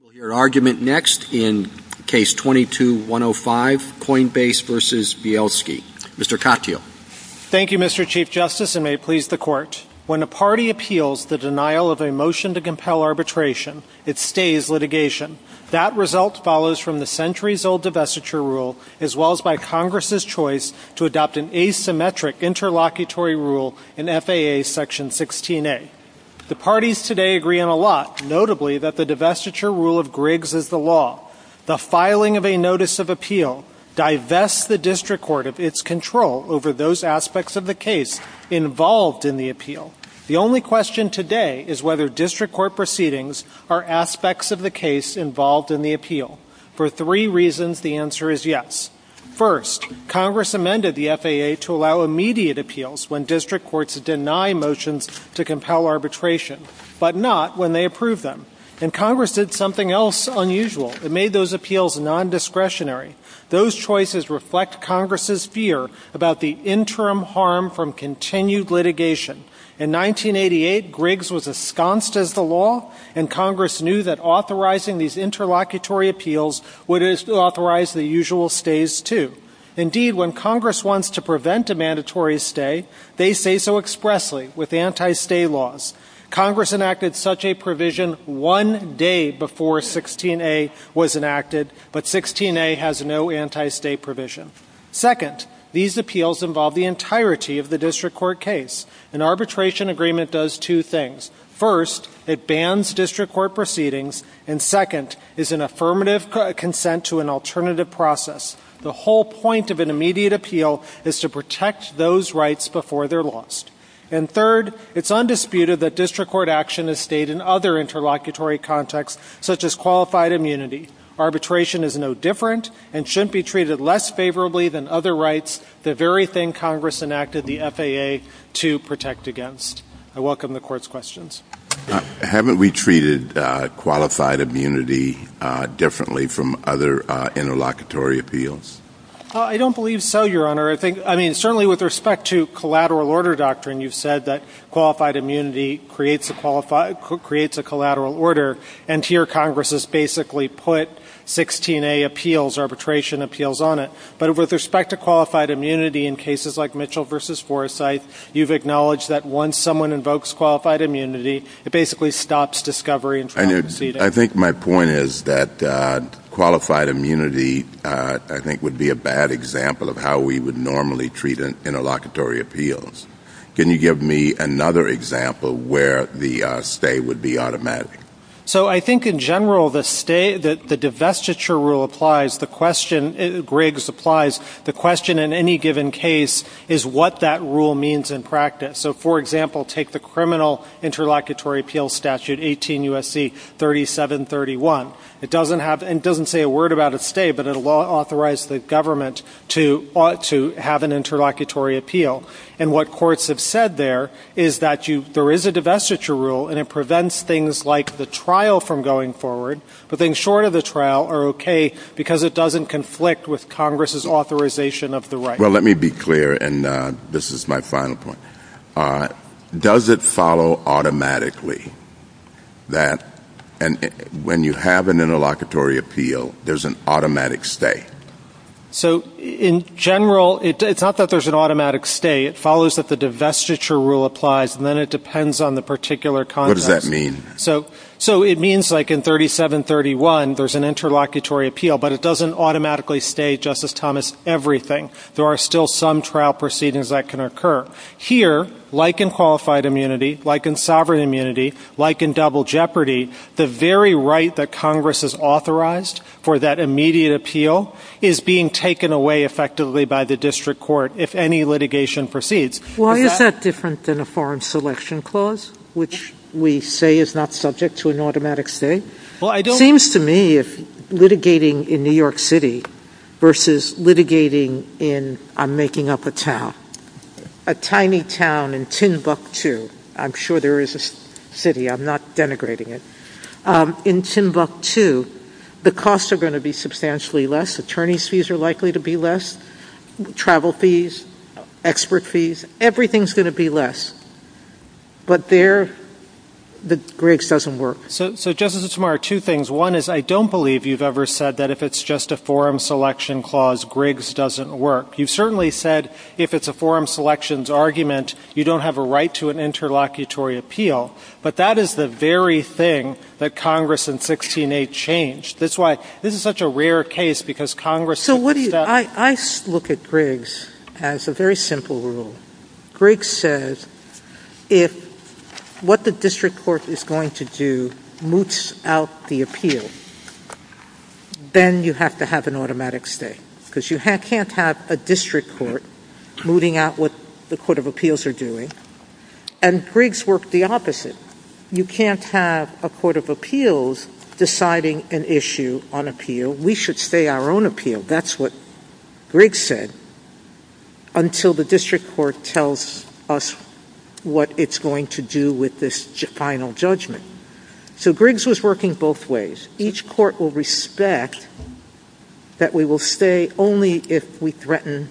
We'll hear argument next in Case 22-105, Coinbase v. Bielski. Mr. Katyal. Thank you, Mr. Chief Justice, and may it please the Court, when a party appeals the denial of a motion to compel arbitration, it stays litigation. That result follows from the centuries-old divestiture rule, as well as by Congress' choice to adopt an asymmetric interlocutory rule in FAA Section 16A. The parties today agree on a lot, notably that the divestiture rule of Griggs is the law. The filing of a notice of appeal divests the district court of its control over those aspects of the case involved in the appeal. The only question today is whether district court proceedings are aspects of the case involved in the appeal. For three reasons, the answer is yes. First, Congress amended the FAA to allow immediate appeals when district courts deny motions to compel arbitration, but not when they approve them. And Congress did something else unusual and made those appeals nondiscretionary. Those choices reflect Congress' fear about the interim harm from continued litigation. In 1988, Griggs was ensconced as the law, and Congress knew that authorizing these interlocutory appeals would authorize the usual stays, too. Indeed, when Congress wants to prevent a mandatory stay, they say so expressly, with anti-stay laws. Congress enacted such a provision one day before 16A was enacted, but 16A has no anti-stay provision. Second, these appeals involve the entirety of the district court case. An arbitration agreement does two things. First, it bans district court proceedings, and second, is an affirmative consent to an alternative process. The whole point of an immediate appeal is to protect those rights before they're lost. And third, it's undisputed that district court action is stayed in other interlocutory contexts, such as qualified immunity. Arbitration is no different and shouldn't be treated less favorably than other rights, the very thing Congress enacted the FAA to protect against. I welcome the court's questions. Haven't we treated qualified immunity differently from other interlocutory appeals? I don't believe so, Your Honor. I mean, certainly with respect to collateral order doctrine, you've said that qualified immunity creates a collateral order. And here Congress has basically put 16A appeals, arbitration appeals, on it. But with respect to qualified immunity in cases like Mitchell v. Forsythe, you've acknowledged that once someone invokes qualified immunity, it basically stops discovery. I think my point is that qualified immunity, I think, would be a bad example of how we would normally treat interlocutory appeals. Can you give me another example where the stay would be automatic? So I think in general, the stay, the divestiture rule applies. The question, Griggs, applies. The question in any given case is what that rule means in practice. So, for example, take the criminal interlocutory appeal statute, 18 U.S.C. 3731. It doesn't say a word about a stay, but it will authorize the government to have an interlocutory appeal. And what courts have said there is that there is a divestiture rule, and it prevents things like the trial from going forward. The things short of the trial are okay because it doesn't conflict with Congress's authorization of the right. Well, let me be clear, and this is my final point. Does it follow automatically that when you have an interlocutory appeal, there's an automatic stay? So in general, it's not that there's an automatic stay. It follows that the divestiture rule applies, and then it depends on the particular context. What does that mean? So it means like in 3731, there's an interlocutory appeal, but it doesn't automatically stay, Justice Thomas, everything. There are still some trial proceedings that can occur. Here, like in qualified immunity, like in sovereign immunity, like in double jeopardy, the very right that Congress has authorized for that immediate appeal is being taken away effectively by the district court if any litigation proceeds. Why is that different than a foreign selection clause, which we say is not subject to an automatic stay? It seems to me that litigating in New York City versus litigating in, I'm making up a town, a tiny town in Timbuktu. I'm sure there is a city. I'm not denigrating it. In Timbuktu, the costs are going to be substantially less. Attorney's fees are likely to be less. Travel fees, expert fees, everything's going to be less. But there, the rigs doesn't work. So, Justice Otamara, two things. One is I don't believe you've ever said that if it's just a foreign selection clause, rigs doesn't work. You certainly said if it's a foreign selections argument, you don't have a right to an interlocutory appeal. But that is the very thing that Congress in 16-8 changed. That's why this is such a rare case because Congress... Well, I look at rigs as a very simple rule. Rigs says if what the district court is going to do moots out the appeal, then you have to have an automatic stay. Because you can't have a district court mooting out what the court of appeals are doing. And rigs works the opposite. You can't have a court of appeals deciding an issue on appeal. We should stay our own appeal. That's what rigs said until the district court tells us what it's going to do with this final judgment. So, rigs was working both ways. Each court will respect that we will stay only if we threaten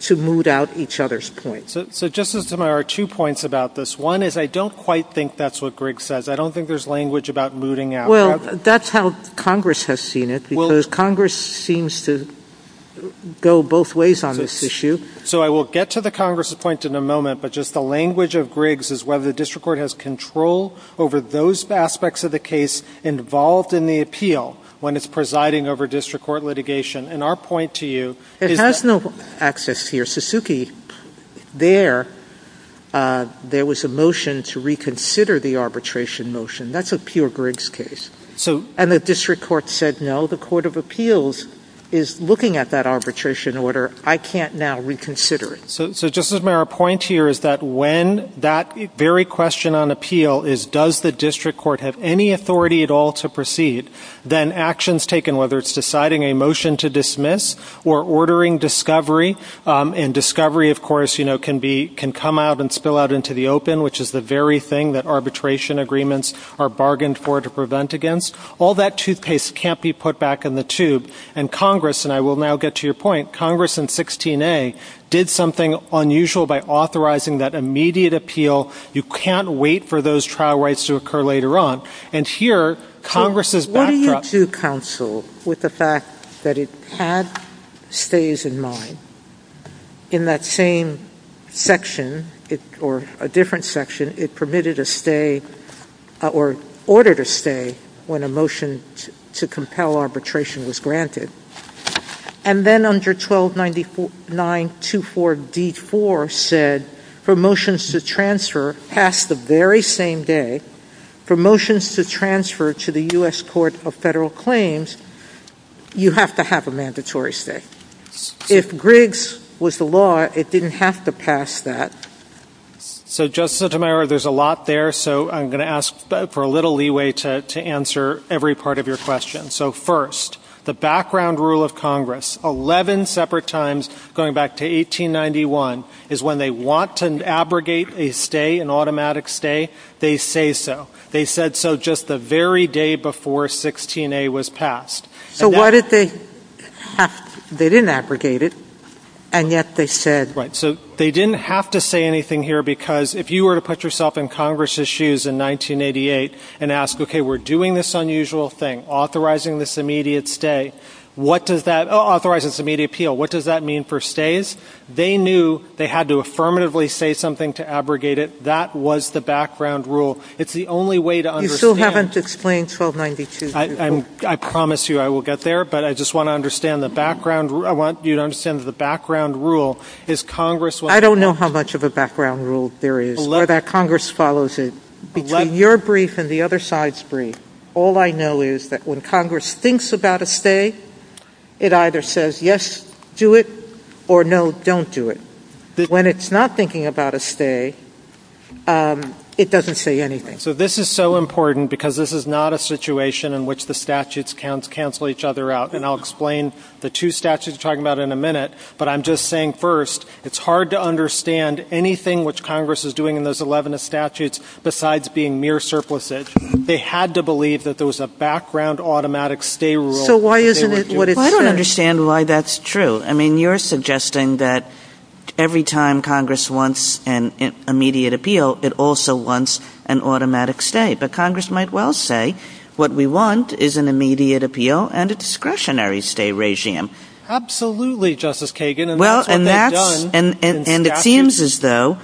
to moot out each other's points. So, Justice Otamara, two points about this. One is I don't quite think that's what rigs says. I don't think there's language about mooting out. Well, that's how Congress has seen it because Congress seems to go both ways on this issue. So, I will get to the Congress's point in a moment, but just the language of rigs is whether the district court has control over those aspects of the case involved in the appeal when it's presiding over district court litigation. And our point to you is... It has no access here. In the case of Suzuki, there was a motion to reconsider the arbitration motion. That's a pure rigs case. And the district court said, no, the court of appeals is looking at that arbitration order. I can't now reconsider it. So, Justice Otamara, our point here is that when that very question on appeal is does the district court have any authority at all to proceed, then actions taken, whether it's deciding a motion to dismiss or ordering discovery, and discovery, of course, can come out and spill out into the open, which is the very thing that arbitration agreements are bargained for to prevent against, all that toothpaste can't be put back in the tube. And Congress, and I will now get to your point, Congress in 16A did something unusual by authorizing that immediate appeal. You can't wait for those trial rights to occur later on. And here, Congress's backdrop... And then under 129924D4 said for motions to transfer past the very same day, for motions to transfer to the U.S. Court of Federal Claims, you have to have a mandatory stay. If Griggs was the law, it didn't have to pass that. So, Justice Otamara, there's a lot there, so I'm going to ask for a little leeway to answer every part of your question. So, first, the background rule of Congress, 11 separate times, going back to 1891, is when they want to abrogate a stay, an automatic stay, they say so. They said so just the very day before 16A was passed. So, what did they... They didn't abrogate it, and yet they said... Right, so they didn't have to say anything here, because if you were to put yourself in Congress's shoes in 1988 and ask, okay, we're doing this unusual thing, authorizing this immediate stay, what does that... Oh, authorizing this immediate appeal, what does that mean for stays? They knew they had to affirmatively say something to abrogate it. That was the background rule. It's the only way to understand... You still haven't explained 1292. I promise you I will get there, but I just want you to understand that the background rule is Congress... I don't know how much of a background rule there is, but Congress follows it. Between your brief and the other side's brief, all I know is that when Congress thinks about a stay, it either says yes, do it, or no, don't do it. When it's not thinking about a stay, it doesn't say anything. So this is so important, because this is not a situation in which the statutes cancel each other out, and I'll explain the two statutes we're talking about in a minute, but I'm just saying, first, it's hard to understand anything which Congress is doing in those 11 statutes besides being mere surpluses. They had to believe that there was a background automatic stay rule. So why isn't it... I don't understand why that's true. I mean, you're suggesting that every time Congress wants an immediate appeal, it also wants an automatic stay, but Congress might well say what we want is an immediate appeal and a discretionary stay regime. Absolutely, Justice Kagan, and that's what they've done. And it seems as though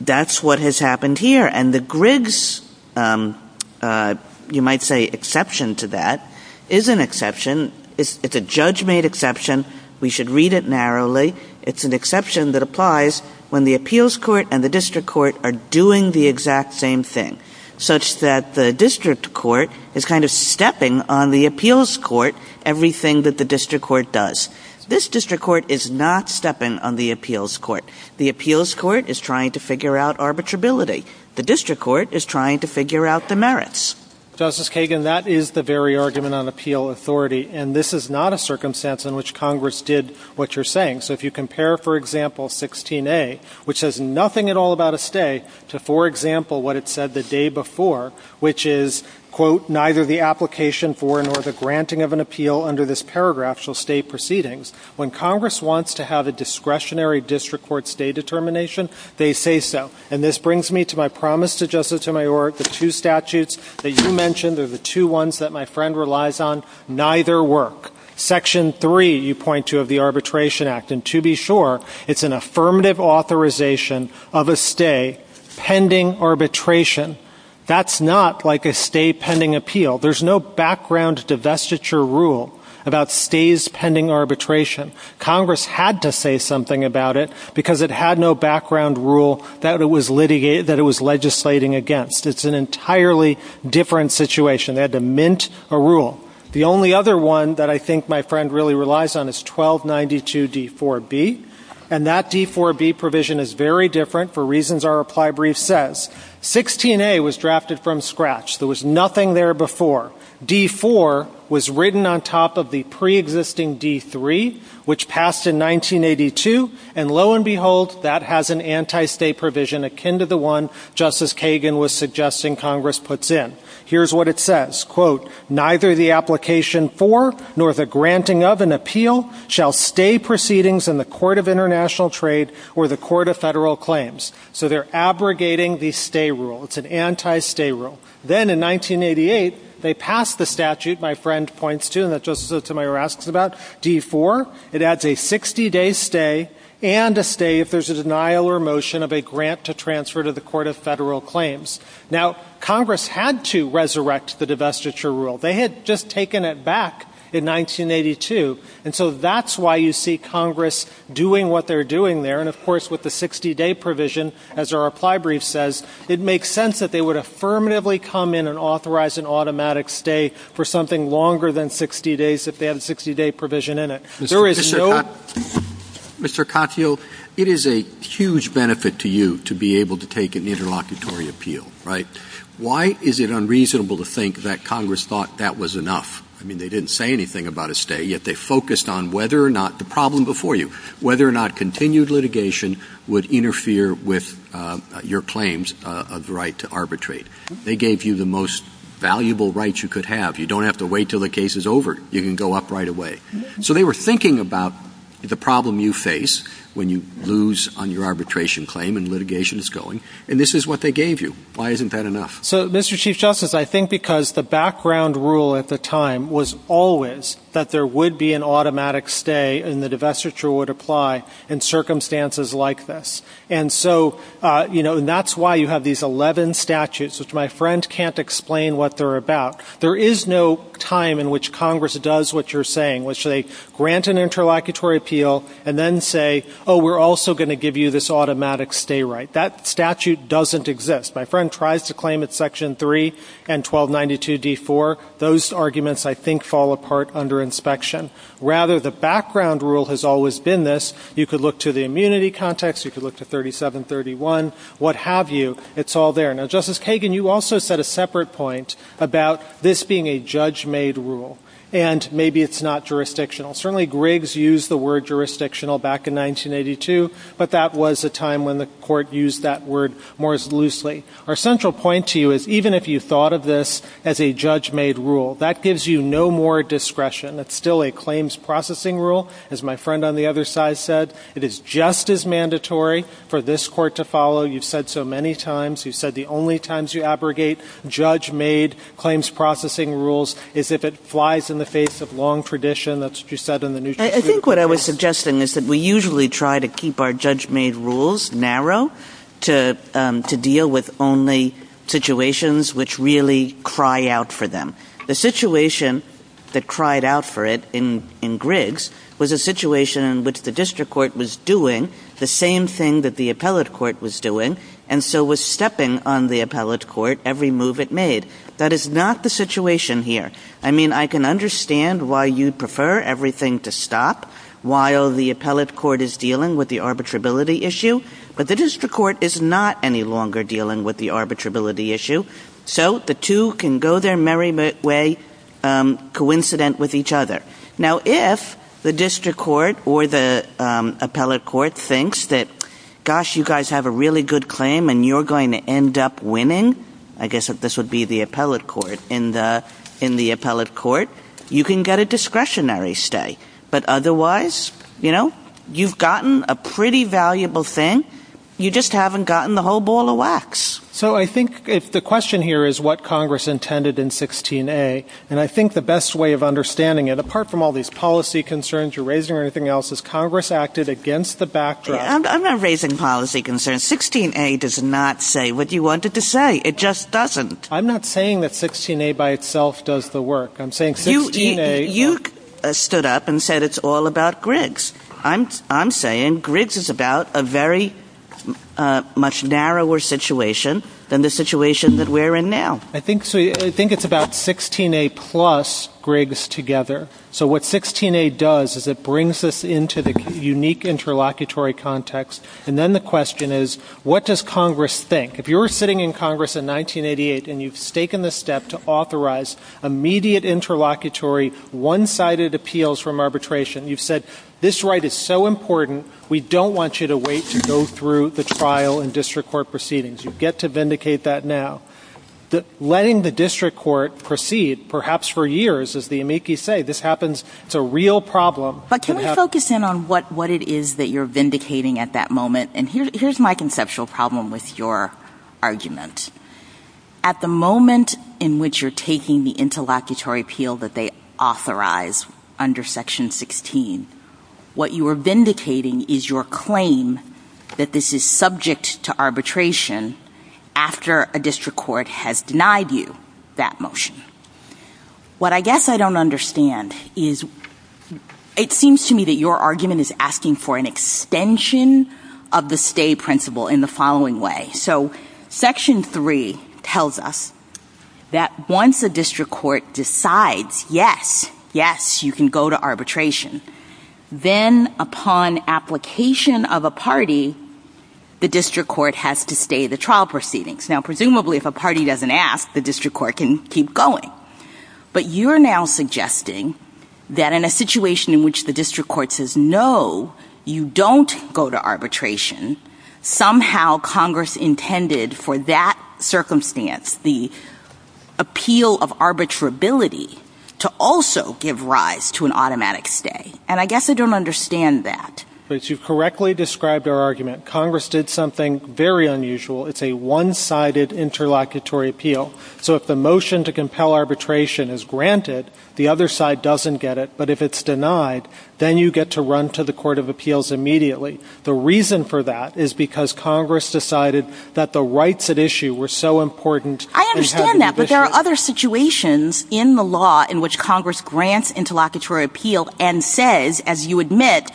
that's what has happened here, and the Griggs, you might say, exception to that is an exception. It's a judge-made exception. We should read it narrowly. It's an exception that applies when the appeals court and the district court are doing the exact same thing, such that the district court is kind of stepping on the appeals court everything that the district court does. This district court is not stepping on the appeals court. The appeals court is trying to figure out arbitrability. The district court is trying to figure out the merits. Justice Kagan, that is the very argument on appeal authority, and this is not a circumstance in which Congress did what you're saying. So if you compare, for example, 16A, which says nothing at all about a stay, to, for example, what it said the day before, which is, quote, neither the application for nor the granting of an appeal under this paragraph shall stay proceedings, when Congress wants to have a discretionary district court stay determination, they say so. And this brings me to my promise to Justice Omayor, the two statutes that you mentioned are the two ones that my friend relies on. Neither work. Section 3, you point to, of the Arbitration Act, and to be sure, it's an affirmative authorization of a stay pending arbitration. That's not like a stay pending appeal. There's no background divestiture rule about stays pending arbitration. Congress had to say something about it because it had no background rule that it was legislating against. It's an entirely different situation. They had to mint a rule. The only other one that I think my friend really relies on is 1292D4B, and that D4B provision is very different for reasons our apply brief says. 16A was drafted from scratch. There was nothing there before. D4 was written on top of the preexisting D3, which passed in 1982, and lo and behold, that has an anti-stay provision akin to the one Justice Kagan was suggesting Congress puts in. Here's what it says. So they're abrogating the stay rule. It's an anti-stay rule. Then in 1988, they passed the statute my friend points to and that Justice Sotomayor asks about, D4. It adds a 60-day stay and a stay if there's a denial or motion of a grant to transfer to the Court of Federal Claims. Now, Congress had to resurrect the divestiture rule. They had just taken it back in 1982, and so that's why you see Congress doing what they're doing there. And, of course, with the 60-day provision, as our apply brief says, it makes sense that they would affirmatively come in and authorize an automatic stay for something longer than 60 days if they have a 60-day provision in it. Mr. Cotfield, it is a huge benefit to you to be able to take an interlocutory appeal, right? Why is it unreasonable to think that Congress thought that was enough? I mean, they didn't say anything about a stay, yet they focused on whether or not the problem before you, whether or not continued litigation would interfere with your claims of the right to arbitrate. They gave you the most valuable rights you could have. You don't have to wait until the case is over. You can go up right away. So they were thinking about the problem you face when you lose on your arbitration claim and litigation is going, and this is what they gave you. Why isn't that enough? So, Mr. Chief Justice, I think because the background rule at the time was always that there would be an automatic stay and the divestiture would apply in circumstances like this. And so, you know, that's why you have these 11 statutes, which my friend can't explain what they're about. There is no time in which Congress does what you're saying, which they grant an interlocutory appeal and then say, oh, we're also going to give you this automatic stay right. That statute doesn't exist. My friend tries to claim it's Section 3 and 1292D4. Those arguments, I think, fall apart under inspection. Rather, the background rule has always been this. You could look to the immunity context. You could look to 3731, what have you. It's all there. Now, Justice Kagan, you also set a separate point about this being a judge-made rule, and maybe it's not jurisdictional. Certainly, Griggs used the word jurisdictional back in 1982, but that was a time when the court used that word more loosely. Our central point to you is even if you thought of this as a judge-made rule, that gives you no more discretion. It's still a claims processing rule, as my friend on the other side said. It is just as mandatory for this court to follow. You've said so many times. You've said the only times you abrogate judge-made claims processing rules is if it flies in the face of long tradition. That's what you said in the New York Times. I think what I was suggesting is that we usually try to keep our judge-made rules narrow to deal with only situations which really cry out for them. The situation that cried out for it in Griggs was a situation in which the district court was doing the same thing that the appellate court was doing. And so it was stepping on the appellate court every move it made. That is not the situation here. I mean, I can understand why you'd prefer everything to stop while the appellate court is dealing with the arbitrability issue, but the district court is not any longer dealing with the arbitrability issue. So the two can go their merry way, coincident with each other. Now, if the district court or the appellate court thinks that, gosh, you guys have a really good claim and you're going to end up winning, I guess this would be the appellate court, in the appellate court, you can get a discretionary stay. But otherwise, you know, you've gotten a pretty valuable thing. You just haven't gotten the whole ball of wax. So I think the question here is what Congress intended in 16-A. And I think the best way of understanding it, apart from all these policy concerns you're raising or anything else, is Congress acted against the backdrop. I'm not raising policy concerns. 16-A does not say what you wanted to say. It just doesn't. I'm not saying that 16-A by itself does the work. I'm saying 16-A. You stood up and said it's all about Griggs. I'm saying Griggs is about a very much narrower situation than the situation that we're in now. I think it's about 16-A plus Griggs together. So what 16-A does is it brings us into the unique interlocutory context. And then the question is, what does Congress think? If you were sitting in Congress in 1988 and you've taken the step to authorize immediate interlocutory, one-sided appeals from arbitration, you've said this right is so important, we don't want you to wait to go through the trial and district court proceedings. You get to vindicate that now. Letting the district court proceed, perhaps for years, as the amici say, this happens, it's a real problem. But can we focus in on what it is that you're vindicating at that moment? And here's my conceptual problem with your argument. At the moment in which you're taking the interlocutory appeal that they authorize under Section 16, what you are vindicating is your claim that this is subject to arbitration after a district court has denied you that motion. What I guess I don't understand is it seems to me that your argument is asking for an extension of the stay principle in the following way. So Section 3 tells us that once a district court decides, yes, yes, you can go to arbitration, then upon application of a party, the district court has to stay the trial proceedings. Now, presumably, if a party doesn't ask, the district court can keep going. But you're now suggesting that in a situation in which the district court says, no, you don't go to arbitration, somehow Congress intended for that circumstance, the appeal of arbitrability, to also give rise to an automatic stay. And I guess I don't understand that. As you correctly described our argument, Congress did something very unusual. It's a one-sided interlocutory appeal. So if the motion to compel arbitration is granted, the other side doesn't get it. But if it's denied, then you get to run to the Court of Appeals immediately. The reason for that is because Congress decided that the rights at issue were so important. I understand that. But there are other situations in the law in which Congress grants interlocutory appeal and says, as you admit,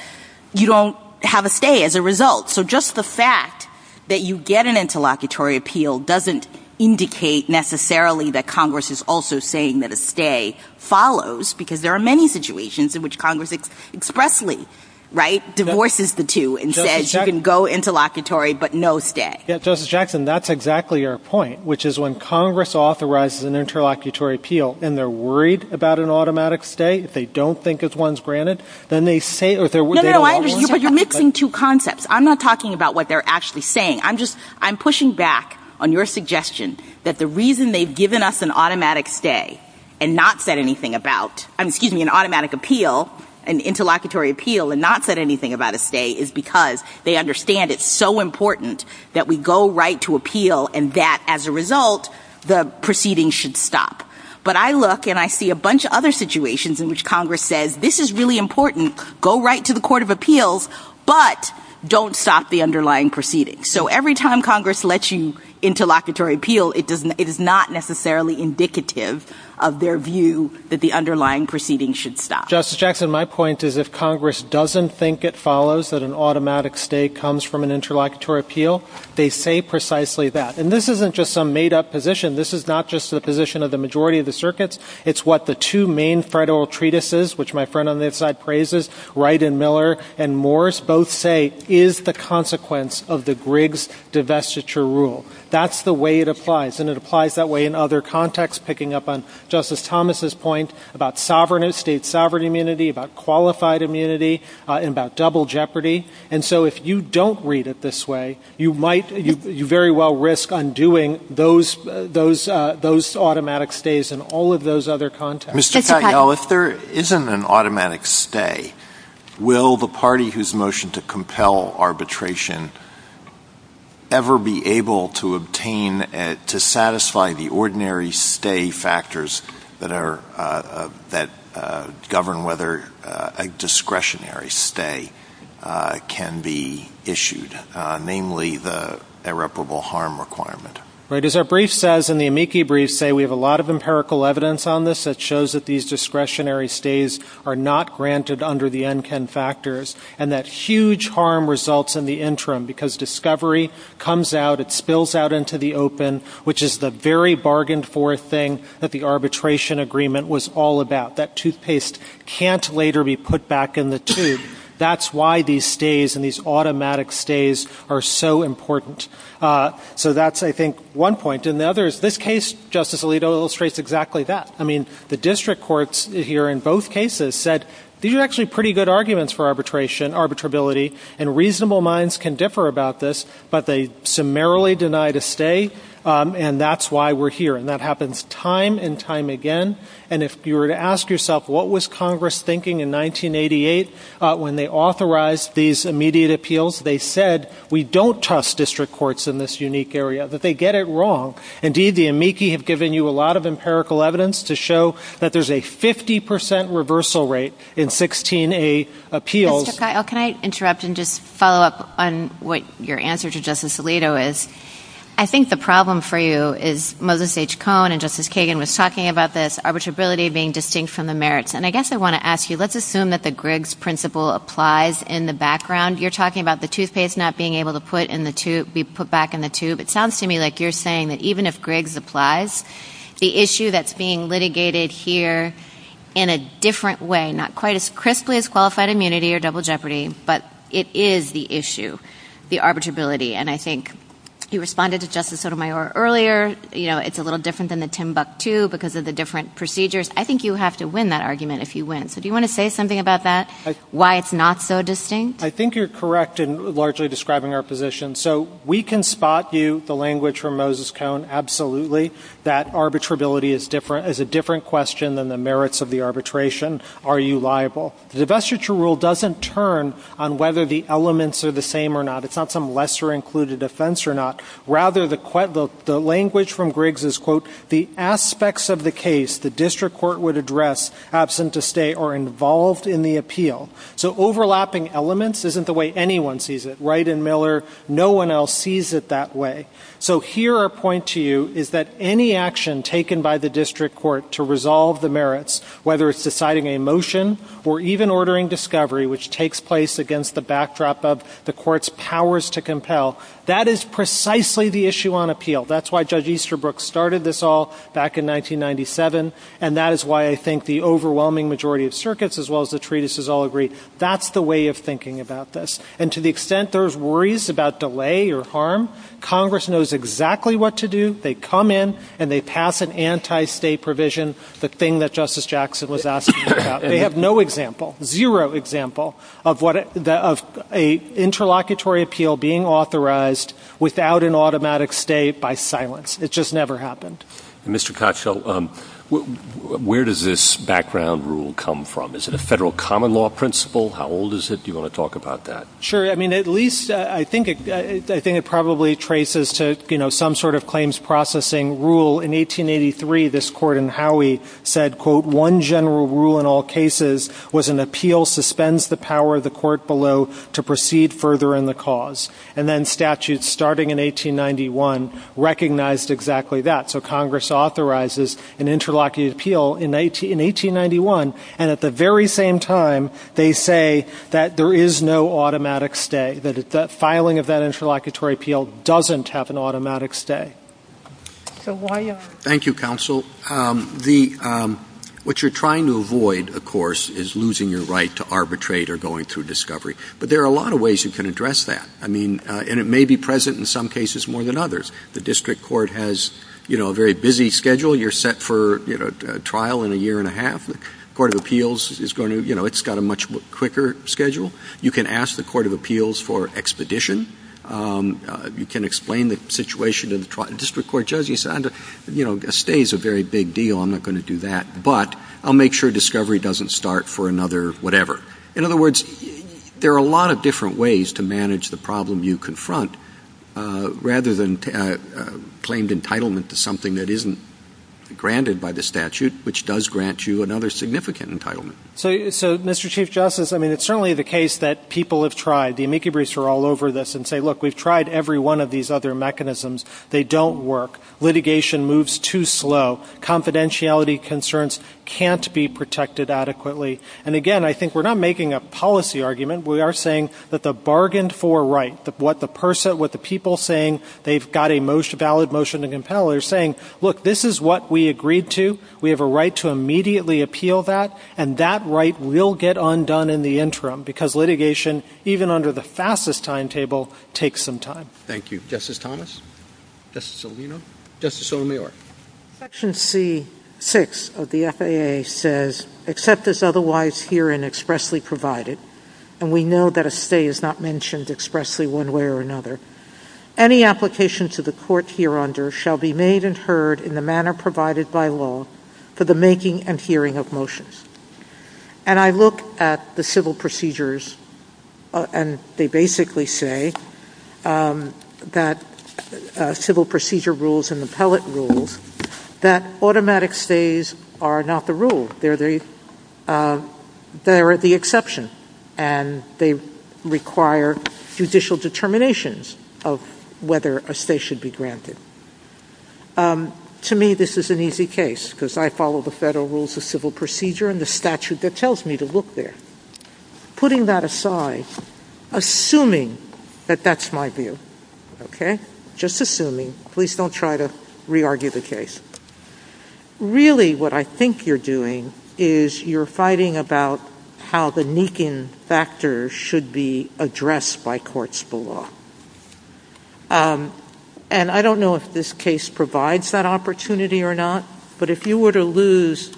you don't have a stay as a result. So just the fact that you get an interlocutory appeal doesn't indicate necessarily that Congress is also saying that a stay follows, because there are many situations in which Congress expressly, right, divorces the two and says you can go interlocutory but no stay. Yeah, Justice Jackson, that's exactly your point, which is when Congress authorizes an interlocutory appeal and they're worried about an automatic stay, if they don't think it's one's granted, then they say or there would be a law. No, no, I think you're missing two concepts. I'm not talking about what they're actually saying. I'm pushing back on your suggestion that the reason they've given us an automatic stay and not said anything about, excuse me, an automatic appeal, an interlocutory appeal, and not said anything about a stay is because they understand it's so important that we go right to appeal and that, as a result, the proceeding should stop. But I look and I see a bunch of other situations in which Congress says this is really important, go right to the Court of Appeals, but don't stop the underlying proceedings. So every time Congress lets you interlocutory appeal, it is not necessarily indicative of their view that the underlying proceedings should stop. Justice Jackson, my point is if Congress doesn't think it follows that an automatic stay comes from an interlocutory appeal, they say precisely that. And this isn't just some made-up position. This is not just the position of the majority of the circuits. It's what the two main federal treatises, which my friend on this side praises, Wright and Miller and Morse, both say is the consequence of the Griggs divestiture rule. That's the way it applies, and it applies that way in other contexts, picking up on Justice Thomas's point about state sovereign immunity, about qualified immunity, and about double jeopardy. And so if you don't read it this way, you very well risk undoing those automatic stays in all of those other contexts. If there isn't an automatic stay, will the party whose motion to compel arbitration ever be able to obtain, to satisfy the ordinary stay factors that govern whether a discretionary stay can be issued, namely the irreparable harm requirement? As our brief says, and the amici briefs say, we have a lot of empirical evidence on this that shows that these discretionary stays are not granted under the N-10 factors, and that huge harm results in the interim, because discovery comes out, it spills out into the open, which is the very bargained-for thing that the arbitration agreement was all about. That toothpaste can't later be put back in the tube. That's why these stays and these automatic stays are so important. So that's, I think, one point. And the other is, this case, Justice Alito, illustrates exactly that. I mean, the district courts here in both cases said, these are actually pretty good arguments for arbitration, arbitrability, and reasonable minds can differ about this, but they summarily deny the stay, and that's why we're here. And that happens time and time again. And if you were to ask yourself, what was Congress thinking in 1988 when they authorized these immediate appeals, they said, we don't trust district courts in this unique area, that they get it wrong. Indeed, the amici have given you a lot of empirical evidence to show that there's a 50% reversal rate in 16A appeals. Can I interrupt and just follow up on what your answer to Justice Alito is? I think the problem for you is Moses H. Cohn and Justice Kagan was talking about this arbitrability being distinct from the merits. And I guess I want to ask you, let's assume that the Griggs principle applies in the background. You're talking about the toothpaste not being able to be put back in the tube. It sounds to me like you're saying that even if Griggs applies, the issue that's being litigated here in a different way, not quite as crisply as qualified immunity or double jeopardy, but it is the issue, the arbitrability. And I think you responded to Justice Sotomayor earlier, it's a little different than the Timbuktu because of the different procedures. I think you have to win that argument if you win. So do you want to say something about that, why it's not so distinct? I think you're correct in largely describing our position. So we can spot you, the language from Moses Cohn, absolutely, that arbitrability is a different question than the merits of the arbitration. Are you liable? The vestiture rule doesn't turn on whether the elements are the same or not. It's not some lesser included offense or not. Rather, the language from Griggs is, quote, the aspects of the case the district court would address, absent to stay, are involved in the appeal. So overlapping elements isn't the way anyone sees it. No one else sees it that way. So here, our point to you is that any action taken by the district court to resolve the merits, whether it's deciding a motion or even ordering discovery, which takes place against the backdrop of the court's powers to compel, that is precisely the issue on appeal. That's why Judge Easterbrook started this all back in 1997, and that is why I think the overwhelming majority of circuits, as well as the treatises, all agree. That's the way of thinking about this. And to the extent there's worries about delay or harm, Congress knows exactly what to do. They come in, and they pass an anti-state provision, the thing that Justice Jackson was asking about. They have no example, zero example, of an interlocutory appeal being authorized without an automatic state by silence. It just never happened. Mr. Kotchel, where does this background rule come from? Is it a federal common law principle? How old is it? Do you want to talk about that? Sure. I mean, at least I think it probably traces to some sort of claims processing rule. In 1883, this court in Howey said, quote, one general rule in all cases was an appeal suspends the power of the court below to proceed further in the cause. And then statutes starting in 1891 recognized exactly that. So Congress authorizes an interlocutory appeal in 1891. And at the very same time, they say that there is no automatic stay, that filing of that interlocutory appeal doesn't have an automatic stay. Thank you, counsel. What you're trying to avoid, of course, is losing your right to arbitrate or going through discovery. But there are a lot of ways you can address that. I mean, and it may be present in some cases more than others. The district court has a very busy schedule. You're set for trial in a year and a half. The court of appeals has got a much quicker schedule. You can ask the court of appeals for expedition. You can explain the situation to the district court judge. You say, you know, a stay is a very big deal. I'm not going to do that. But I'll make sure discovery doesn't start for another whatever. In other words, there are a lot of different ways to manage the problem you confront rather than claimed entitlement to something that isn't granted by the statute, which does grant you another significant entitlement. So, Mr. Chief Justice, I mean, it's certainly the case that people have tried. The amici briefs are all over this and say, look, we've tried every one of these other mechanisms. They don't work. Litigation moves too slow. Confidentiality concerns can't be protected adequately. And, again, I think we're not making a policy argument. We are saying that the bargained for right, what the person, what the people saying they've got a most valid motion to compel, they're saying, look, this is what we agreed to. We have a right to immediately appeal that. And that right will get undone in the interim because litigation, even under the fastest timetable, takes some time. Thank you. Justice Thomas. Justice Alito. Justice O'Neill. Section C6 of the FAA says, except as otherwise here and expressly provided, and we know that a stay is not mentioned expressly one way or another, any application to the court here under shall be made and heard in the manner provided by law for the making and hearing of motions. And I look at the civil procedures and they basically say that civil procedure rules and appellate rules that automatic stays are not the rule. They're the exception. And they require judicial determinations of whether a stay should be granted. And I look at the federal rules of civil procedure. To me, this is an easy case because I follow the federal rules of civil procedure and the statute that tells me to look there. Putting that aside, assuming that that's my view, just assuming, please don't try to re-argue the case. Really, what I think you're doing is you're fighting about how the Neekin factor should be addressed by courts below. And I don't know if this case provides that opportunity or not, but if you were to lose,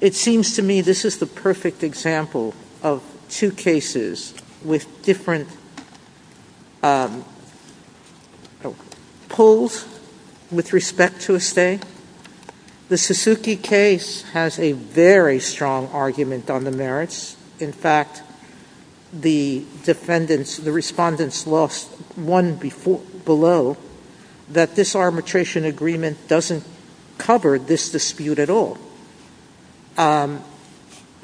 it seems to me this is the perfect example of two cases with different pulls with respect to a stay. The Suzuki case has a very strong argument on the merits. In fact, the defendants, the respondents lost one below that this arbitration agreement doesn't cover this dispute at all.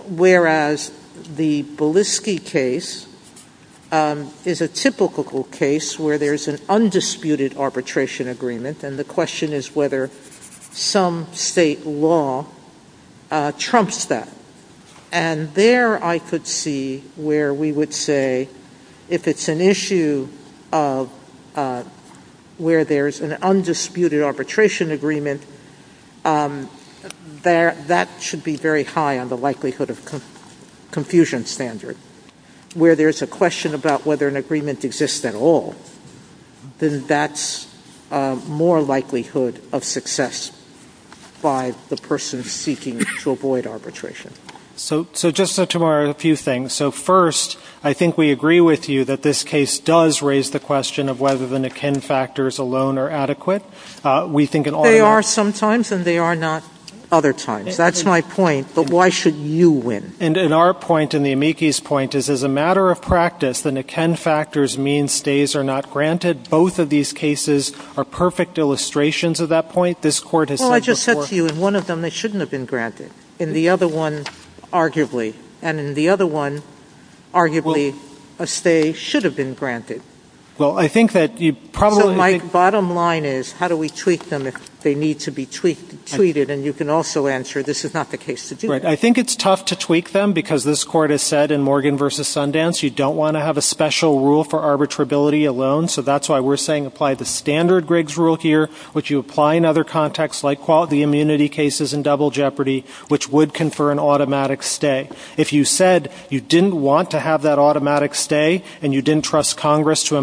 Whereas the Bieliski case is a typical case where there's an undisputed arbitration agreement. And the question is whether some state law trumps that. And there I could see where we would say if it's an issue where there's an undisputed arbitration agreement, that should be very high on the likelihood of confusion standard. Where there's a question about whether an agreement exists at all, then that's more likelihood of success by the person seeking to avoid arbitration. So just a few things. So first, I think we agree with you that this case does raise the question of whether the Neekin factors alone are adequate. They are sometimes, and they are not other times. That's my point. But why should you win? And our point, and the amici's point, is as a matter of practice, the Neekin factors mean stays are not granted. Both of these cases are perfect illustrations of that point. Well, I just said to you, in one of them they shouldn't have been granted. In the other one, arguably. And in the other one, arguably, a stay should have been granted. My bottom line is, how do we tweak them if they need to be tweaked? And you can also answer, this is not the case to do that. I think it's tough to tweak them, because this Court has said in Morgan v. Sundance, you don't want to have a special rule for arbitrability alone. So that's why we're saying apply the standard Griggs rule here, which you apply in other contexts, like the immunity cases in Double Jeopardy, which would confer an automatic stay. If you said you didn't want to have that automatic stay, and you didn't trust Congress to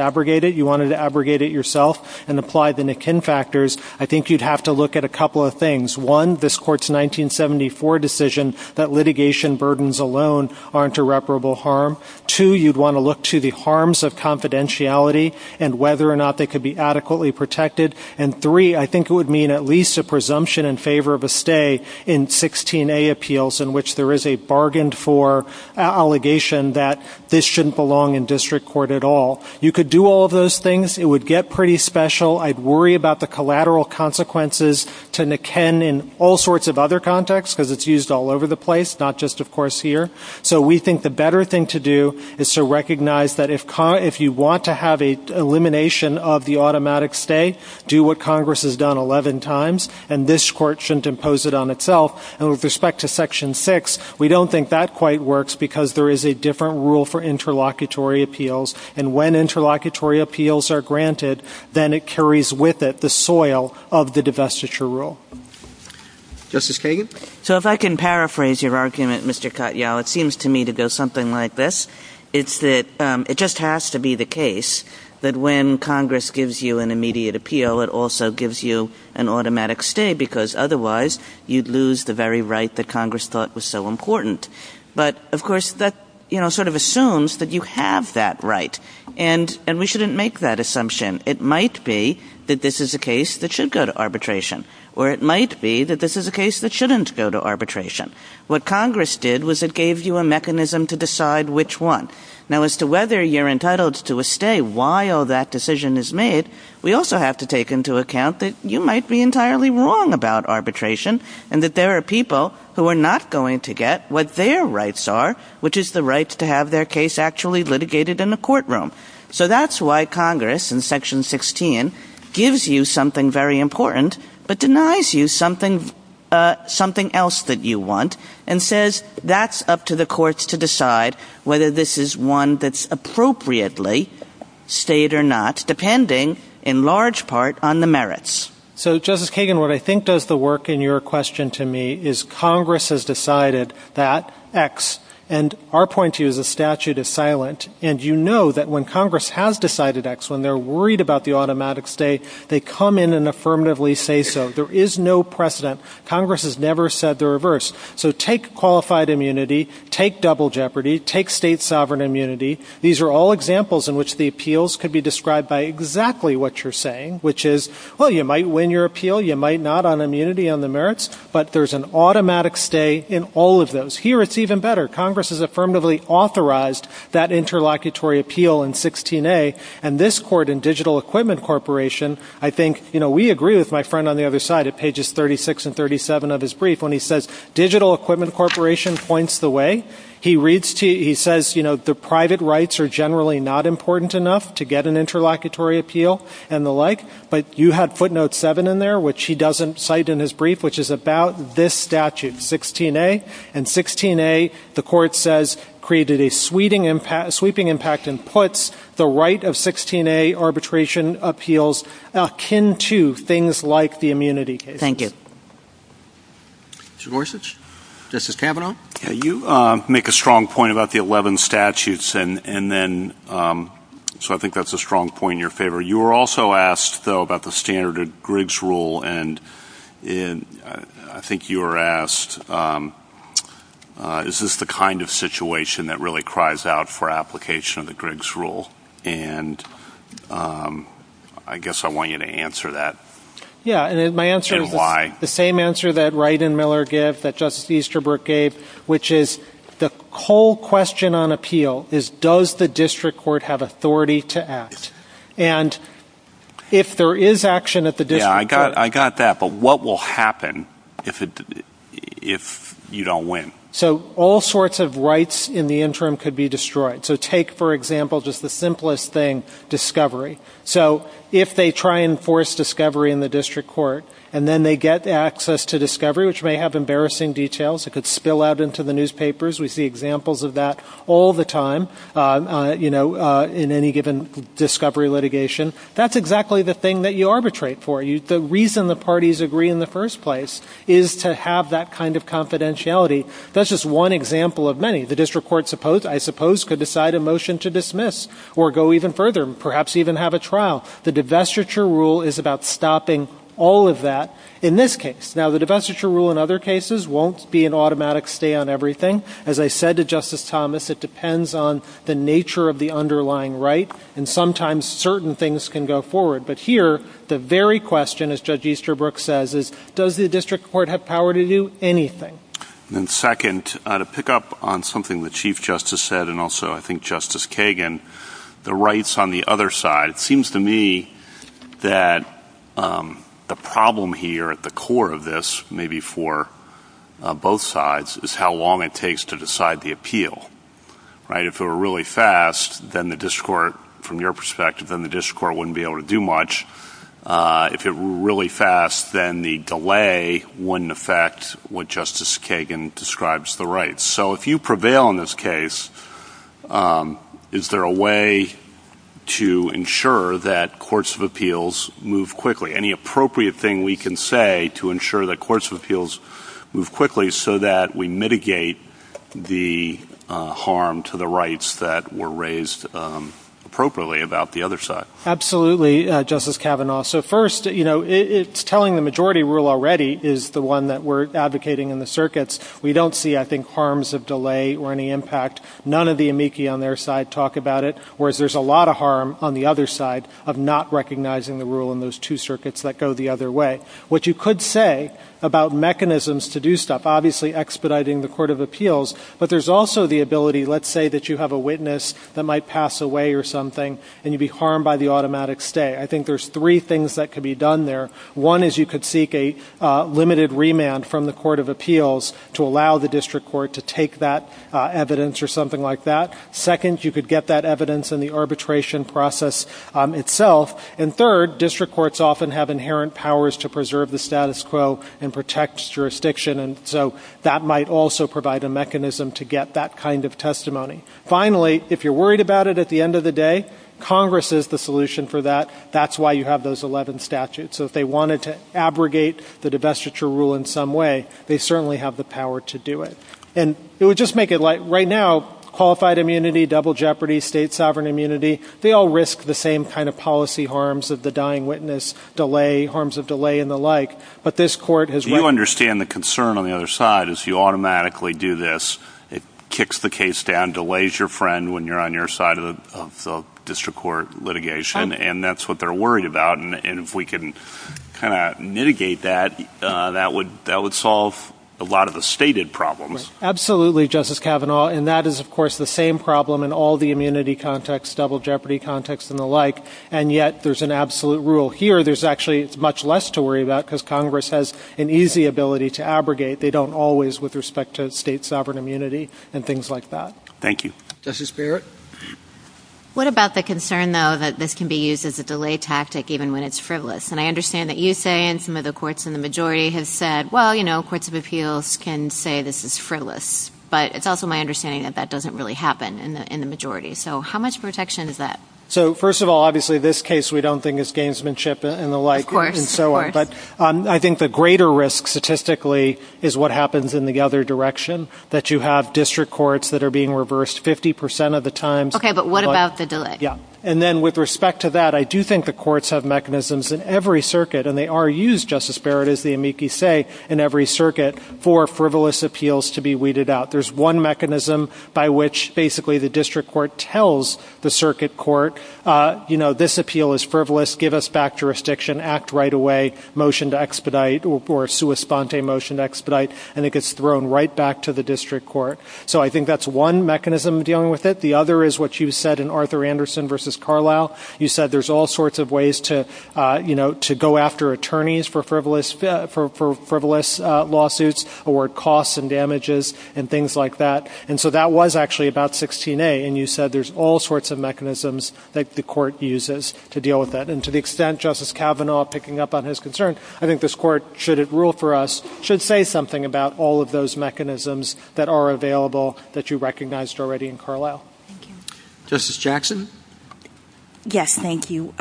abrogate it, you wanted to abrogate it yourself and apply the Neekin factors, I think you'd have to look at a couple of things. One, this Court's 1974 decision that litigation burdens alone aren't irreparable harm. Two, you'd want to look to the harms of confidentiality and whether or not they could be adequately protected. And three, I think it would mean at least a presumption in favor of a stay in 16A appeals, in which there is a bargained-for allegation that this shouldn't belong in district court at all. You could do all of those things. It would get pretty special. I'd worry about the collateral consequences to Neekin in all sorts of other contexts, because it's used all over the place, not just, of course, here. So we think the better thing to do is to recognize that if you want to have an elimination of the automatic stay, do what Congress has done 11 times, and this Court shouldn't impose it on itself. And with respect to Section 6, we don't think that quite works, because there is a different rule for interlocutory appeals. And when interlocutory appeals are granted, then it carries with it the soil of the divestiture rule. Justice Kagan? So if I can paraphrase your argument, Mr. Katyal, it seems to me to go something like this. It's that it just has to be the case that when Congress gives you an immediate appeal, it also gives you an automatic stay, because otherwise you'd lose the very right that Congress thought was so important. But, of course, that sort of assumes that you have that right, and we shouldn't make that assumption. It might be that this is a case that should go to arbitration, or it might be that this is a case that shouldn't go to arbitration. What Congress did was it gave you a mechanism to decide which one. Now, as to whether you're entitled to a stay while that decision is made, we also have to take into account that you might be entirely wrong about arbitration, and that there are people who are not going to get what their rights are, which is the right to have their case actually litigated in the courtroom. So that's why Congress, in Section 16, gives you something very important, but denies you something else that you want, and says that's up to the courts to decide whether this is one that's appropriately stayed or not, depending, in large part, on the merits. So, Justice Kagan, what I think does the work in your question to me is Congress has decided that X. And our point to you is the statute is silent, and you know that when Congress has decided X, when they're worried about the automatic stay, they come in and affirmatively say so. There is no precedent. Congress has never said the reverse. So take qualified immunity, take double jeopardy, take state sovereign immunity. These are all examples in which the appeals could be described by exactly what you're saying, which is, well, you might win your appeal, you might not on immunity on the merits, but there's an automatic stay in all of those. Here it's even better. Congress has affirmatively authorized that interlocutory appeal in 16A, and this court in Digital Equipment Corporation, I think, you know, we agree with my friend on the other side at pages 36 and 37 of his brief when he says, Digital Equipment Corporation points the way. He says, you know, the private rights are generally not important enough to get an interlocutory appeal and the like, but you had footnote 7 in there, which he doesn't cite in his brief, which is about this statute, 16A. And 16A, the court says, created a sweeping impact and puts the right of 16A arbitration appeals akin to things like the immunity case. Mr. Gorsuch, this is Kavanaugh. You make a strong point about the 11 statutes, and then, so I think that's a strong point in your favor. You were also asked, though, about the standard of Griggs rule, and I think you were asked, is this the kind of situation that really cries out for application of the Griggs rule? And I guess I want you to answer that. Yeah, and my answer is the same answer that Wright and Miller gave, that Justice Easterbrook gave, which is the whole question on appeal is, does the district court have authority to act? And if there is action at the district court... Yeah, I got that, but what will happen if you don't win? So all sorts of rights in the interim could be destroyed. So take, for example, just the simplest thing, discovery. So if they try and force discovery in the district court, and then they get access to discovery, which may have embarrassing details, it could spill out into the newspapers. We see examples of that all the time, you know, in any given discovery litigation. That's exactly the thing that you arbitrate for. The reason the parties agree in the first place is to have that kind of confidentiality. That's just one example of many. The district court, I suppose, could decide a motion to dismiss or go even further, perhaps even have a trial. The divestiture rule is about stopping all of that in this case. Now, the divestiture rule in other cases won't be an automatic stay on everything. As I said to Justice Thomas, it depends on the nature of the underlying right, and sometimes certain things can go forward. But here, the very question, as Judge Easterbrook says, is, does the district court have power to do anything? And second, to pick up on something that Chief Justice said, and also I think Justice Kagan, the rights on the other side, it seems to me that the problem here at the core of this, maybe for both sides, is how long it takes to decide the appeal. If it were really fast, then the district court, from your perspective, then the district court wouldn't be able to do much. If it were really fast, then the delay wouldn't affect what Justice Kagan describes the rights. So if you prevail in this case, is there a way to ensure that courts of appeals move quickly? Any appropriate thing we can say to ensure that courts of appeals move quickly so that we mitigate the harm to the rights that were raised appropriately about the other side? Absolutely, Justice Kavanaugh. So first, it's telling the majority rule already is the one that we're advocating in the circuits. We don't see, I think, harms of delay or any impact. None of the amici on their side talk about it, whereas there's a lot of harm on the other side of not recognizing the rule in those two circuits that go the other way. What you could say about mechanisms to do stuff, obviously expediting the court of appeals, but there's also the ability, let's say, that you have a witness that might pass away or something and you'd be harmed by the automatic stay. I think there's three things that could be done there. One is you could seek a limited remand from the court of appeals to allow the district court to take that evidence or something like that. Second, you could get that evidence in the arbitration process itself. And third, district courts often have inherent powers to preserve the status quo and protect jurisdiction, and so that might also provide a mechanism to get that kind of testimony. Finally, if you're worried about it at the end of the day, Congress is the solution for that. That's why you have those 11 statutes. So if they wanted to abrogate the divestiture rule in some way, they certainly have the power to do it. Right now, qualified immunity, double jeopardy, state sovereign immunity, they all risk the same kind of policy harms of the dying witness, harms of delay and the like. Do you understand the concern on the other side is you automatically do this, it kicks the case down, delays your friend when you're on your side of the district court litigation, and that's what they're worried about? And if we can kind of mitigate that, that would solve a lot of the stated problems. Absolutely, Justice Kavanaugh. And that is, of course, the same problem in all the immunity contexts, double jeopardy contexts and the like. And yet there's an absolute rule here. There's actually much less to worry about because Congress has an easy ability to abrogate. They don't always with respect to state sovereign immunity and things like that. Thank you. Justice Barrett? What about the concern, though, that this can be used as a delay tactic even when it's frivolous? And I understand that you say and some of the courts in the majority have said, well, you know, courts of appeals can say this is frivolous. But it's also my understanding that that doesn't really happen in the majority. So how much protection is that? So first of all, obviously, this case we don't think is gamesmanship and the like. Of course. And so on. But I think the greater risk statistically is what happens in the other direction, that you have district courts that are being reversed 50 percent of the time. OK. But what about the delay? Yeah. And then with respect to that, I do think the courts have mechanisms in every circuit and they are used, Justice Barrett, as the amici say, in every circuit for frivolous appeals to be weeded out. There's one mechanism by which basically the district court tells the circuit court, you know, this appeal is frivolous. Give us back jurisdiction. Act right away. Motion to expedite or sui sponte motion to expedite. And it gets thrown right back to the district court. So I think that's one mechanism dealing with it. The other is what you said in Arthur Anderson versus Carlisle. You said there's all sorts of ways to, you know, to go after attorneys for frivolous lawsuits or costs and damages and things like that. And so that was actually about 16A. And you said there's all sorts of mechanisms that the court uses to deal with that. And to the extent Justice Kavanaugh picking up on his concern, I think this court, should it rule for us, should say something about all of those mechanisms that are available that you recognized already in Carlisle. Justice Jackson? Yes, thank you.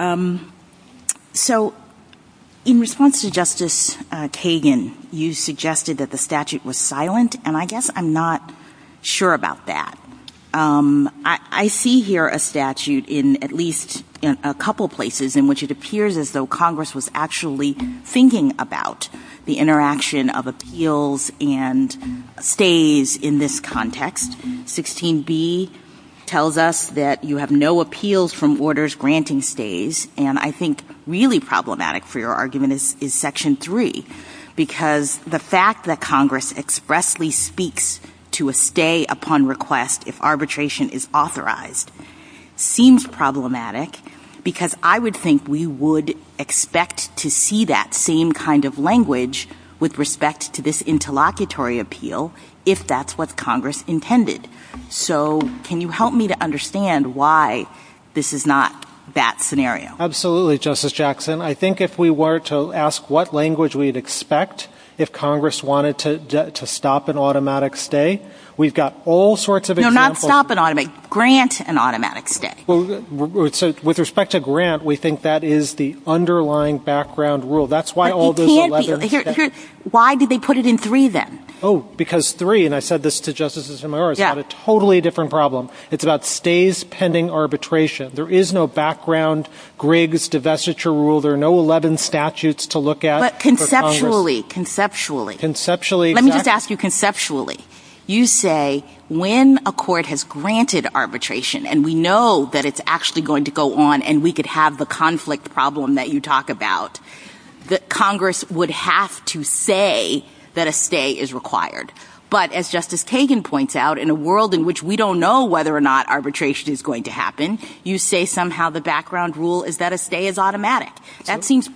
So in response to Justice Kagan, you suggested that the statute was silent. And I guess I'm not sure about that. I see here a statute in at least a couple places in which it appears as though Congress was actually thinking about the interaction of appeals and stays in this context. 16B tells us that you have no appeals from orders granting stays. And I think really problematic for your argument is Section 3. Because the fact that Congress expressly speaks to a stay upon request if arbitration is authorized seems problematic. Because I would think we would expect to see that same kind of language with respect to this interlocutory appeal if that's what Congress intended. So can you help me to understand why this is not that scenario? Absolutely, Justice Jackson. I think if we were to ask what language we would expect if Congress wanted to stop an automatic stay, we've got all sorts of examples. No, not stop an automatic, grant an automatic stay. With respect to grant, we think that is the underlying background rule. That's why all the 11... Why did they put it in 3 then? Oh, because 3, and I said this to Justice Zimmerman, is a totally different problem. It's about stays pending arbitration. There is no background, Griggs, divestiture rule. There are no 11 statutes to look at. But conceptually, conceptually, let me just ask you conceptually. You say when a court has granted arbitration and we know that it's actually going to go on and we could have the conflict problem that you talk about, that Congress would have to say that a stay is required. But as Justice Kagan points out, in a world in which we don't know whether or not arbitration is going to happen, you say somehow the background rule is that a stay is automatic. That seems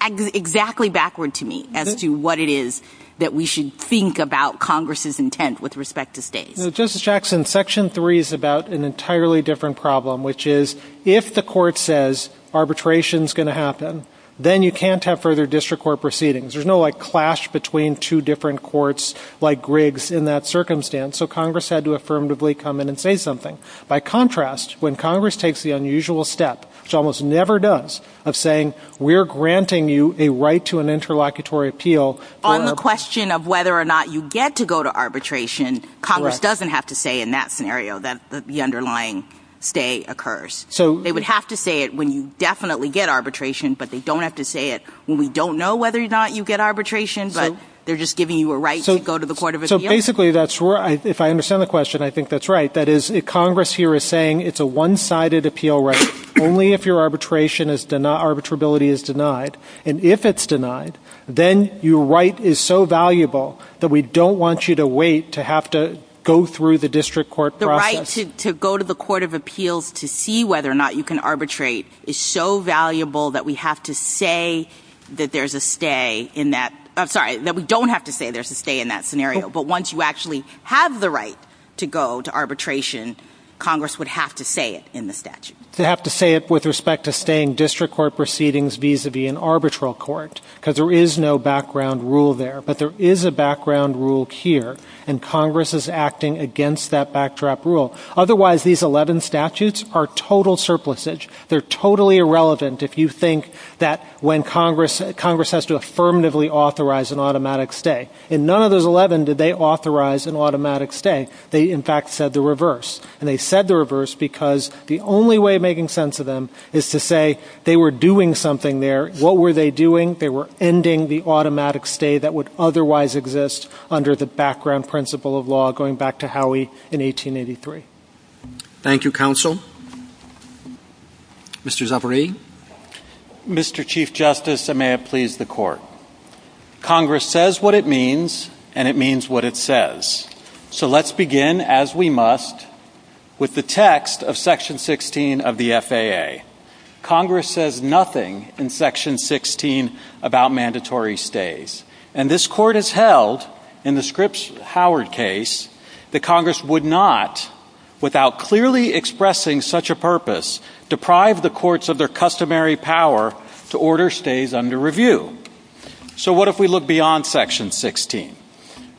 exactly backward to me as to what it is that we should think about Congress's intent with respect to stays. Justice Jackson, Section 3 is about an entirely different problem, which is if the court says arbitration is going to happen, then you can't have further district court proceedings. There's no clash between two different courts like Griggs in that circumstance. So Congress had to affirmatively come in and say something. By contrast, when Congress takes the unusual step, which it almost never does, of saying we're granting you a right to an interlocutory appeal... The question of whether or not you get to go to arbitration, Congress doesn't have to say in that scenario that the underlying stay occurs. They would have to say it when you definitely get arbitration, but they don't have to say it when we don't know whether or not you get arbitration, but they're just giving you a right to go to the court of appeal. So basically, if I understand the question, I think that's right. That is, Congress here is saying it's a one-sided appeal right, only if your arbitrability is denied. And if it's denied, then your right is so valuable that we don't want you to wait to have to go through the district court process. The right to go to the court of appeal to see whether or not you can arbitrate is so valuable that we have to say that there's a stay in that... I'm sorry, that we don't have to say there's a stay in that scenario. But once you actually have the right to go to arbitration, Congress would have to say it in the statute. They'd have to say it with respect to staying district court proceedings vis-a-vis an arbitral court, because there is no background rule there, but there is a background rule here, and Congress is acting against that backdrop rule. Otherwise, these 11 statutes are total surplusage. They're totally irrelevant if you think that Congress has to affirmatively authorize an automatic stay. In none of those 11 did they authorize an automatic stay. They, in fact, said the reverse. And they said the reverse because the only way of making sense of them is to say they were doing something there. What were they doing? They were ending the automatic stay that would otherwise exist under the background principle of law, going back to Howey in 1883. Thank you, Counsel. Mr. Zavarie? Mr. Chief Justice, and may it please the Court. Congress says what it means, and it means what it says. So let's begin, as we must, with the text of Section 16 of the FAA. Congress says nothing in Section 16 about mandatory stays. And this Court has held, in the Scripps-Howard case, that Congress would not, without clearly expressing such a purpose, deprive the courts of their customary power to order stays under review. So what if we look beyond Section 16?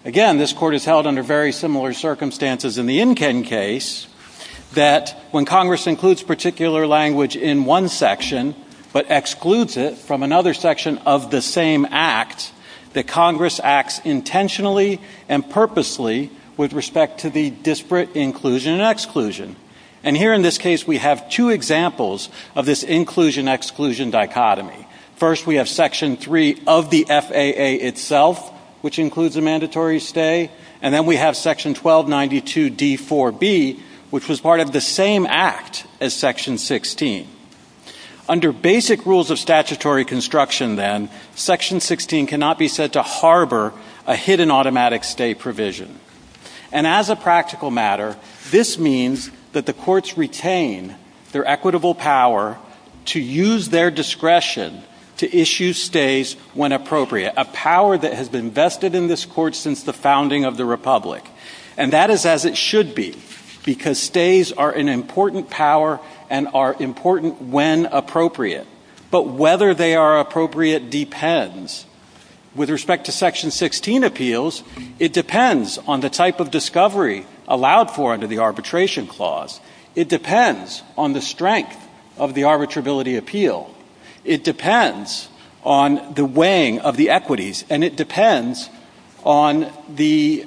Again, this Court has held under very similar circumstances in the Enkin case that when Congress includes particular language in one section but excludes it from another section of the same act, that Congress acts intentionally and purposely with respect to the disparate inclusion and exclusion. And here in this case we have two examples of this inclusion-exclusion dichotomy. First we have Section 3 of the FAA itself, which includes a mandatory stay, and then we have Section 1292d4b, which was part of the same act as Section 16. Under basic rules of statutory construction, then, Section 16 cannot be said to harbor a hidden automatic stay provision. And as a practical matter, this means that the courts retain their equitable power to use their discretion to issue stays when appropriate, a power that has been vested in this Court since the founding of the Republic. And that is as it should be, because stays are an important power and are important when appropriate. But whether they are appropriate depends. With respect to Section 16 appeals, it depends on the type of discovery allowed for under the arbitration clause. It depends on the strength of the arbitrability appeal. It depends on the weighing of the equities. And it depends on the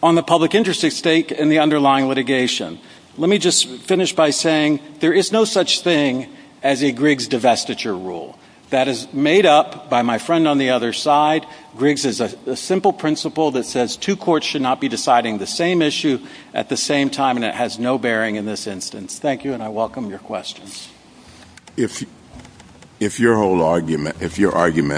public interest at stake in the underlying litigation. Let me just finish by saying there is no such thing as a Griggs divestiture rule. That is made up by my friend on the other side. Griggs is a simple principle that says two courts should not be deciding the same issue at the same time, and it has no bearing in this instance. Thank you, and I welcome your questions. If your argument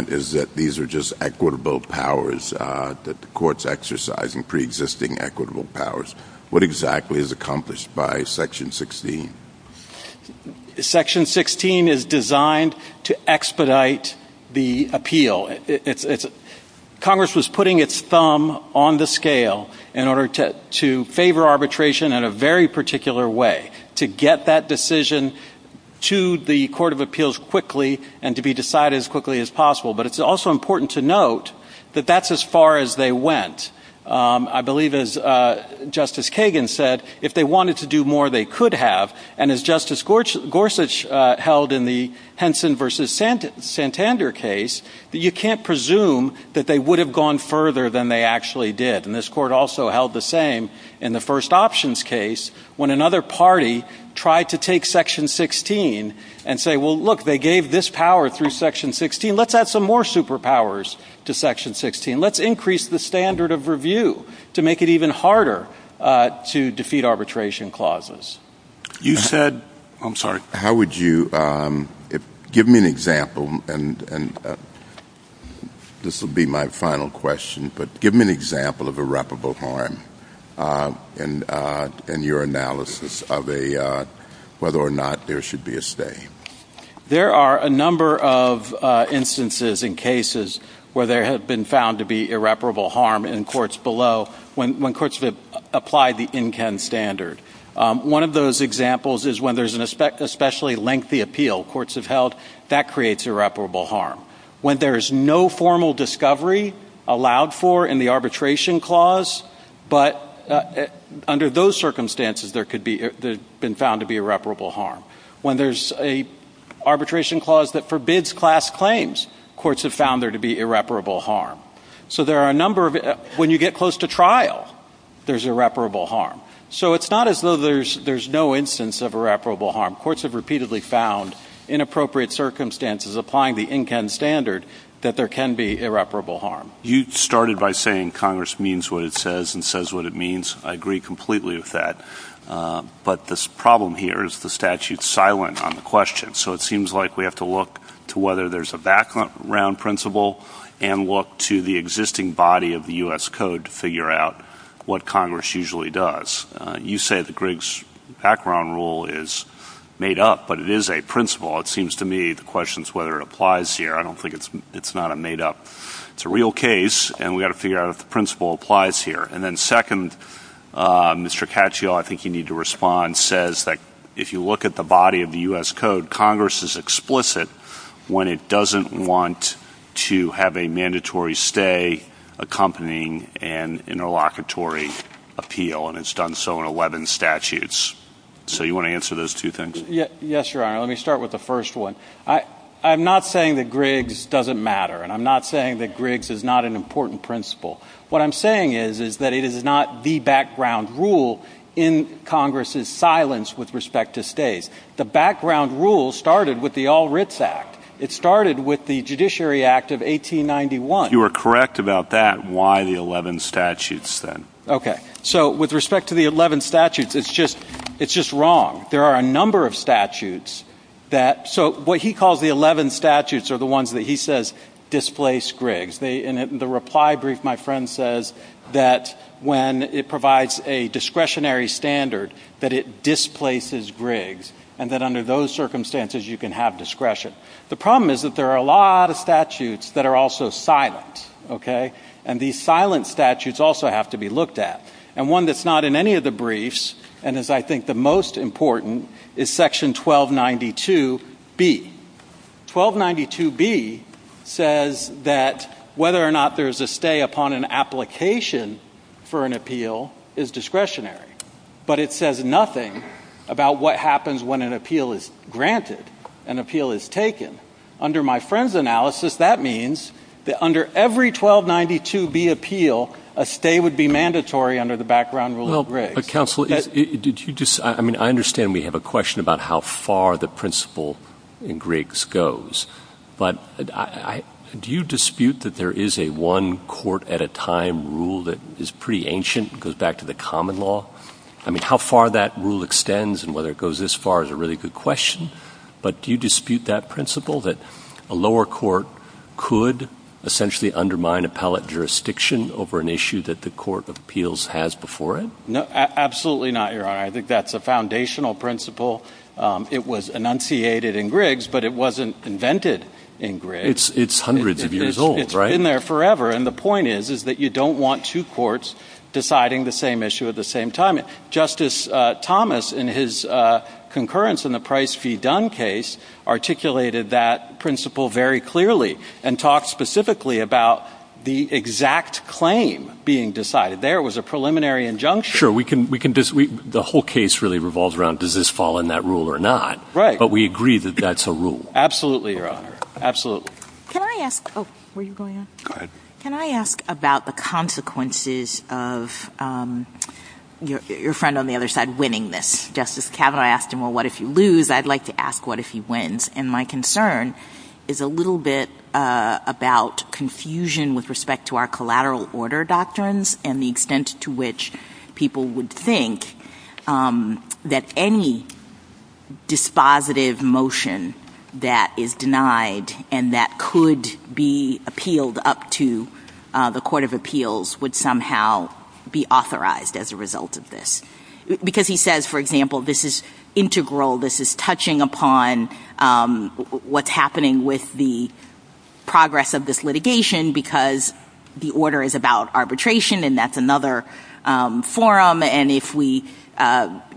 is that these are just equitable powers that the courts exercise in preexisting equitable powers, what exactly is accomplished by Section 16? Section 16 is designed to expedite the appeal. Congress was putting its thumb on the scale in order to favor arbitration in a very particular way, to get that decision to the Court of Appeals quickly and to be decided as quickly as possible. But it's also important to note that that's as far as they went. I believe, as Justice Kagan said, if they wanted to do more, they could have. And as Justice Gorsuch held in the Henson v. Santander case, you can't presume that they would have gone further than they actually did. And this court also held the same in the first options case when another party tried to take Section 16 and say, well, look, they gave this power through Section 16. Let's add some more superpowers to Section 16. Let's increase the standard of review to make it even harder to defeat arbitration clauses. You said, I'm sorry, how would you, give me an example, and this will be my final question, but give me an example of irreparable harm in your analysis of whether or not there should be a stay. There are a number of instances and cases where there have been found to be irreparable harm in courts below when courts have applied the NKEN standard. One of those examples is when there's an especially lengthy appeal courts have held. That creates irreparable harm. When there's no formal discovery allowed for in the arbitration clause, but under those circumstances, there could be, they've been found to be irreparable harm. When there's an arbitration clause that forbids class claims, courts have found there to be irreparable harm. So there are a number of, when you get close to trial, there's irreparable harm. So it's not as though there's no instance of irreparable harm. Courts have repeatedly found in appropriate circumstances applying the NKEN standard that there can be irreparable harm. You started by saying Congress means what it says and says what it means. I agree completely with that. But this problem here is the statute's silent on the question. So it seems like we have to look to whether there's a background principle and look to the existing body of the U.S. Code to figure out what Congress usually does. You say the Griggs background rule is made up, but it is a principle. It seems to me the question is whether it applies here. I don't think it's not a made up. It's a real case, and we've got to figure out if the principle applies here. And then second, Mr. Caccio, I think you need to respond, says that if you look at the body of the U.S. Code, Congress is explicit when it doesn't want to have a mandatory stay accompanying an interlocutory appeal, and it's done so in 11 statutes. So you want to answer those two things? Yes, Your Honor. Let me start with the first one. I'm not saying that Griggs doesn't matter, and I'm not saying that Griggs is not an important principle. What I'm saying is that it is not the background rule in Congress's silence with respect to stays. The background rule started with the All Writs Act. It started with the Judiciary Act of 1891. You are correct about that. Why the 11 statutes then? Okay. So with respect to the 11 statutes, it's just wrong. There are a number of statutes that – so what he calls the 11 statutes are the ones that he says displace Griggs. In the reply brief, my friend says that when it provides a discretionary standard, that it displaces Griggs, and that under those circumstances, you can have discretion. The problem is that there are a lot of statutes that are also silent, okay? And these silent statutes also have to be looked at. And one that's not in any of the briefs and is, I think, the most important is Section 1292B. 1292B says that whether or not there's a stay upon an application for an appeal is discretionary, but it says nothing about what happens when an appeal is granted, an appeal is taken. Under my friend's analysis, that means that under every 1292B appeal, a stay would be mandatory under the background rule of Griggs. I mean, I understand we have a question about how far the principle in Griggs goes, but do you dispute that there is a one-court-at-a-time rule that is pretty ancient and goes back to the common law? I mean, how far that rule extends and whether it goes this far is a really good question, but do you dispute that principle that a lower court could essentially undermine appellate jurisdiction over an issue that the Court of Appeals has before it? Absolutely not, Your Honor. I think that's a foundational principle. It was enunciated in Griggs, but it wasn't invented in Griggs. It's hundreds of years old, right? It's been there forever, and the point is that you don't want two courts deciding the same issue at the same time. Justice Thomas, in his concurrence in the Price v. Dunn case, articulated that principle very clearly and talked specifically about the exact claim being decided. There was a preliminary injunction. Sure, the whole case really revolves around does this fall in that rule or not, but we agree that that's a rule. Absolutely, Your Honor, absolutely. Can I ask about the consequences of your friend on the other side winning this? Justice Kavanaugh asked him, well, what if you lose? I'd like to ask what if he wins, and my concern is a little bit about confusion with respect to our collateral order doctrines and the extent to which people would think that any dispositive motion that is denied and that could be appealed up to the Court of Appeals would somehow be authorized as a result of this. Because he says, for example, this is integral. This is touching upon what's happening with the progress of this litigation because the order is about arbitration, and that's another forum, and if we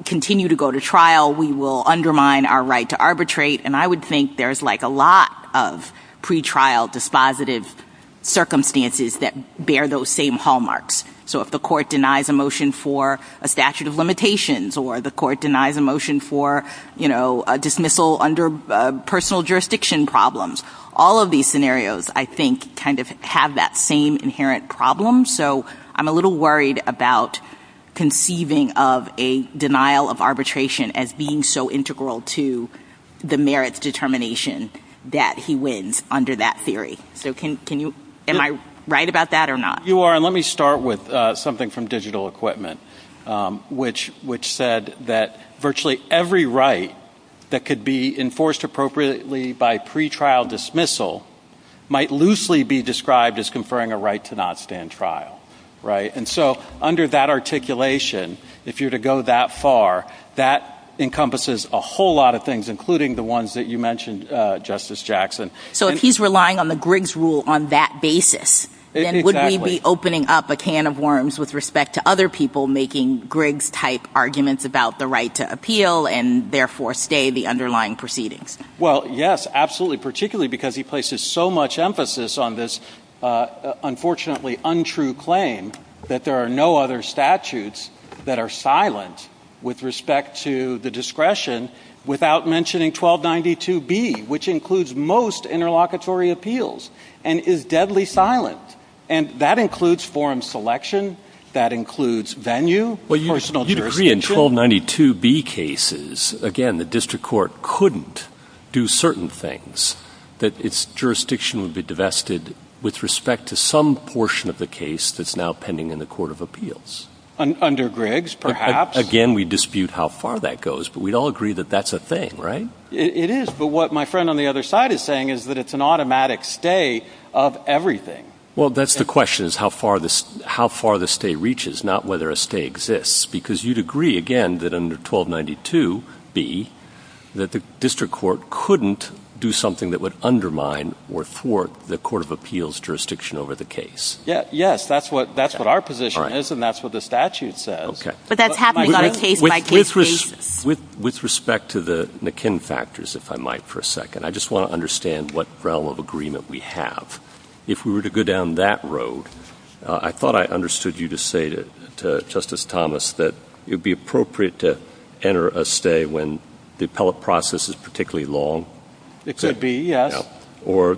continue to go to trial, we will undermine our right to arbitrate, and I would think there's like a lot of pretrial dispositive circumstances that bear those same hallmarks. So if the court denies a motion for a statute of limitations or the court denies a motion for dismissal under personal jurisdiction problems, all of these scenarios, I think, kind of have that same inherent problem, so I'm a little worried about conceiving of a denial of arbitration as being so integral to the merits determination that he wins under that theory. So am I right about that or not? You are, and let me start with something from digital equipment, which said that virtually every right that could be enforced appropriately by pretrial dismissal might loosely be described as conferring a right to not stand trial, right? And so under that articulation, if you were to go that far, that encompasses a whole lot of things, including the ones that you mentioned, Justice Jackson. So if he's relying on the Griggs rule on that basis, then would he be opening up a can of worms with respect to other people making Griggs-type arguments about the right to appeal and therefore stay the underlying proceedings? Well, yes, absolutely, particularly because he places so much emphasis on this unfortunately untrue claim that there are no other statutes that are silent with respect to the discretion without mentioning 1292B, which includes most interlocutory appeals and is deadly silent, and that includes forum selection, that includes venue, personal jurisdiction. Well, you'd agree in 1292B cases, again, the district court couldn't do certain things, that its jurisdiction would be divested with respect to some portion of the case that's now pending in the court of appeals. Under Griggs, perhaps. Again, we dispute how far that goes, but we'd all agree that that's a thing, right? It is, but what my friend on the other side is saying is that it's an automatic stay of everything. Well, that's the question, is how far the stay reaches, not whether a stay exists, because you'd agree, again, that under 1292B that the district court couldn't do something that would undermine or thwart the court of appeals' jurisdiction over the case. Yes, that's what our position is, and that's what the statute says. Okay. But that's happening on a case-by-case basis. With respect to the McKim factors, if I might for a second, I just want to understand what realm of agreement we have. If we were to go down that road, I thought I understood you to say to Justice Thomas that it would be appropriate to enter a stay when the appellate process is particularly long. It could be, yes. Or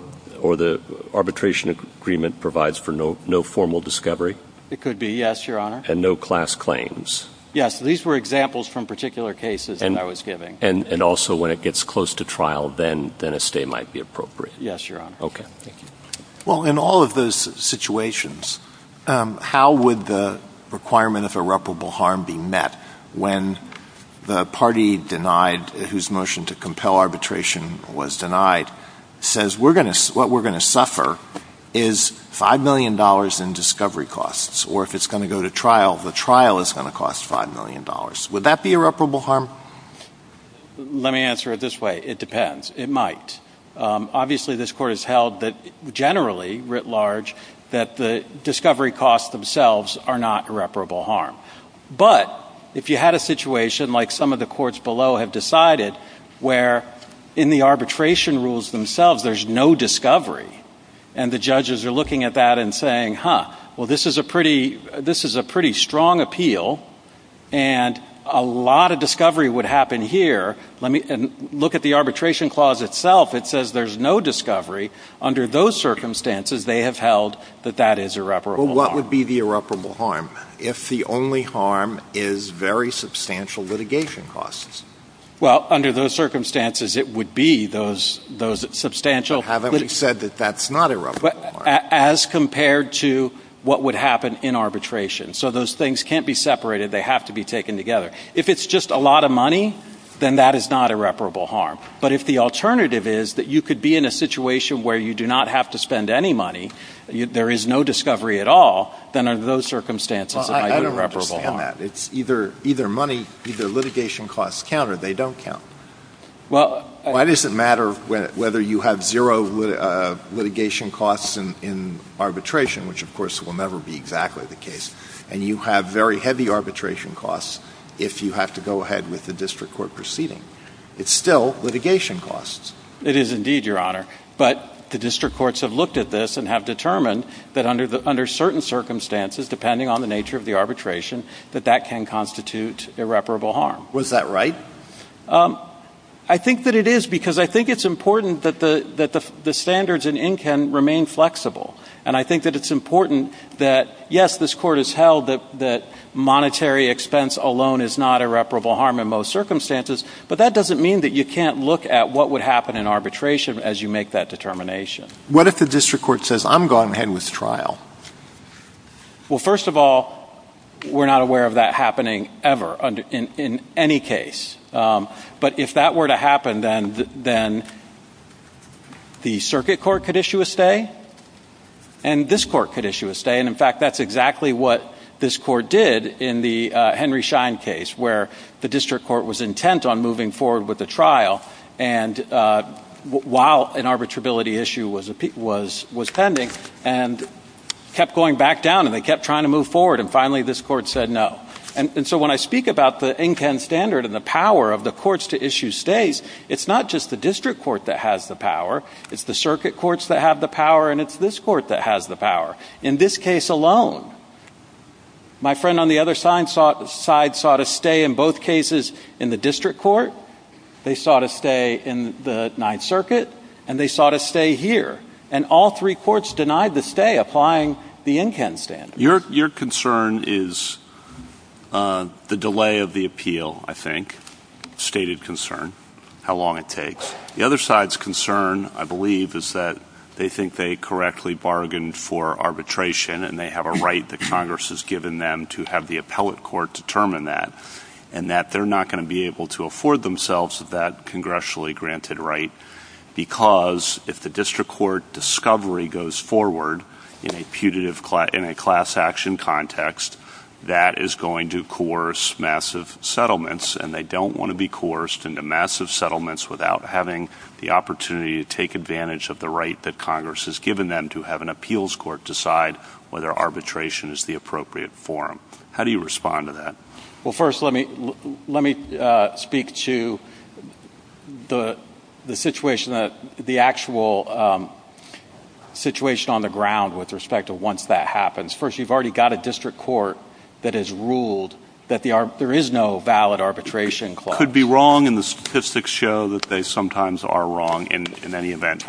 the arbitration agreement provides for no formal discovery. It could be, yes, Your Honor. And no class claims. Yes. These were examples from particular cases that I was giving. And also when it gets close to trial, then a stay might be appropriate. Yes, Your Honor. Okay. Well, in all of those situations, how would the requirement of irreparable harm be met when the party denied, whose motion to compel arbitration was denied, says what we're going to suffer is $5 million in discovery costs, or if it's going to go to trial, the trial is going to cost $5 million. Would that be irreparable harm? Let me answer it this way. It depends. It might. Obviously, this Court has held that generally, writ large, that the discovery costs themselves are not irreparable harm. But if you had a situation like some of the courts below have decided, where in the arbitration rules themselves there's no discovery, and the judges are looking at that and saying, huh, well, this is a pretty strong appeal, and a lot of discovery would happen here. And look at the arbitration clause itself. It says there's no discovery. Under those circumstances, they have held that that is irreparable harm. Well, what would be the irreparable harm if the only harm is very substantial litigation costs? As compared to what would happen in arbitration. So those things can't be separated. They have to be taken together. If it's just a lot of money, then that is not irreparable harm. But if the alternative is that you could be in a situation where you do not have to spend any money, there is no discovery at all, then under those circumstances, it might be irreparable harm. Either litigation costs count or they don't count. Why does it matter whether you have zero litigation costs in arbitration, which of course will never be exactly the case, and you have very heavy arbitration costs if you have to go ahead with the district court proceeding? It's still litigation costs. It is indeed, Your Honor. But the district courts have looked at this and have determined that under certain circumstances, depending on the nature of the arbitration, that that can constitute irreparable harm. Was that right? I think that it is because I think it's important that the standards in INCAN remain flexible. And I think that it's important that, yes, this court has held that monetary expense alone is not irreparable harm in most circumstances, but that doesn't mean that you can't look at what would happen in arbitration as you make that determination. What if the district court says, I'm going ahead with the trial? Well, first of all, we're not aware of that happening ever in any case. But if that were to happen, then the circuit court could issue a stay and this court could issue a stay. And, in fact, that's exactly what this court did in the Henry Schein case, where the district court was intent on moving forward with the trial. And while an arbitrability issue was pending and kept going back down, and they kept trying to move forward, and finally this court said no. And so when I speak about the INCAN standard and the power of the courts to issue stays, it's not just the district court that has the power. It's the circuit courts that have the power, and it's this court that has the power. In this case alone, my friend on the other side sought a stay in both cases in the district court. They sought a stay in the Ninth Circuit, and they sought a stay here. And all three courts denied the stay, applying the INCAN standard. Your concern is the delay of the appeal, I think, stated concern, how long it takes. The other side's concern, I believe, is that they think they correctly bargained for arbitration, and they have a right that Congress has given them to have the appellate court determine that, and that they're not going to be able to afford themselves that congressionally granted right, because if the district court discovery goes forward in a class action context, that is going to coerce massive settlements, and they don't want to be coerced into massive settlements without having the opportunity to take advantage of the right that Congress has given them to have an appeals court decide whether arbitration is the appropriate forum. How do you respond to that? Well, first, let me speak to the actual situation on the ground with respect to once that happens. First, you've already got a district court that has ruled that there is no valid arbitration clause. Could be wrong, and the statistics show that they sometimes are wrong in any event.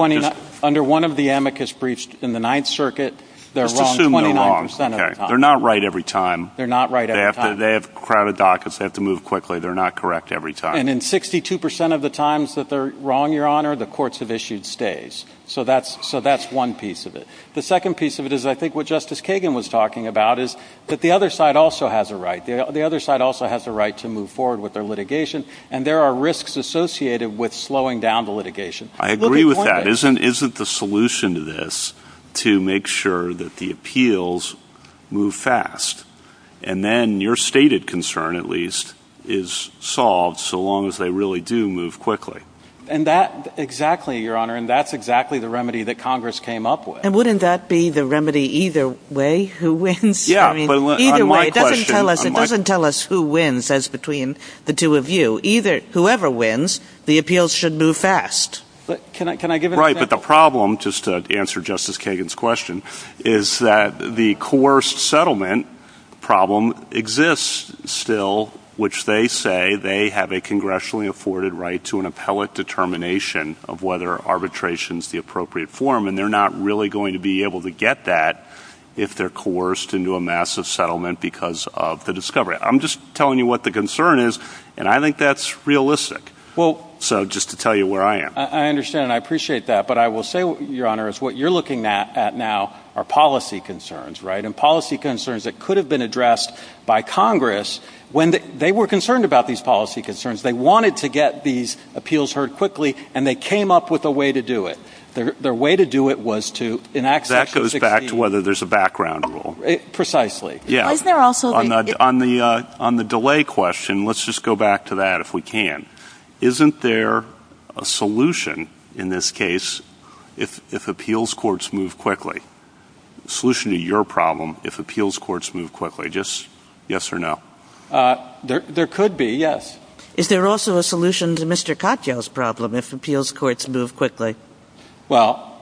Under one of the amicus breaches in the Ninth Circuit, they're wrong 29 percent of the time. Let's assume they're wrong. They're not right every time. They have crowded dockets. They have to move quickly. They're not correct every time. And in 62 percent of the times that they're wrong, Your Honor, the courts have issued stays. So that's one piece of it. The second piece of it is I think what Justice Kagan was talking about is that the other side also has a right. The other side also has a right to move forward with their litigation, and there are risks associated with slowing down the litigation. I agree with that. But is it the solution to this to make sure that the appeals move fast? And then your stated concern, at least, is solved so long as they really do move quickly. Exactly, Your Honor, and that's exactly the remedy that Congress came up with. And wouldn't that be the remedy either way, who wins? Either way. It doesn't tell us who wins as between the two of you. Whoever wins, the appeals should move fast. Can I give an example? Right, but the problem, just to answer Justice Kagan's question, is that the coerced settlement problem exists still, which they say they have a congressionally afforded right to an appellate determination of whether arbitration is the appropriate form, and they're not really going to be able to get that if they're coerced into a massive settlement because of the discovery. I'm just telling you what the concern is, and I think that's realistic. So just to tell you where I am. I understand, and I appreciate that. But I will say, Your Honor, is what you're looking at now are policy concerns, right, and policy concerns that could have been addressed by Congress when they were concerned about these policy concerns. They wanted to get these appeals heard quickly, and they came up with a way to do it. Their way to do it was to enact Section 16. That goes back to whether there's a background rule. Precisely. On the delay question, let's just go back to that if we can. Isn't there a solution in this case if appeals courts move quickly? A solution to your problem if appeals courts move quickly. Just yes or no. There could be, yes. Is there also a solution to Mr. Katyal's problem if appeals courts move quickly? Well,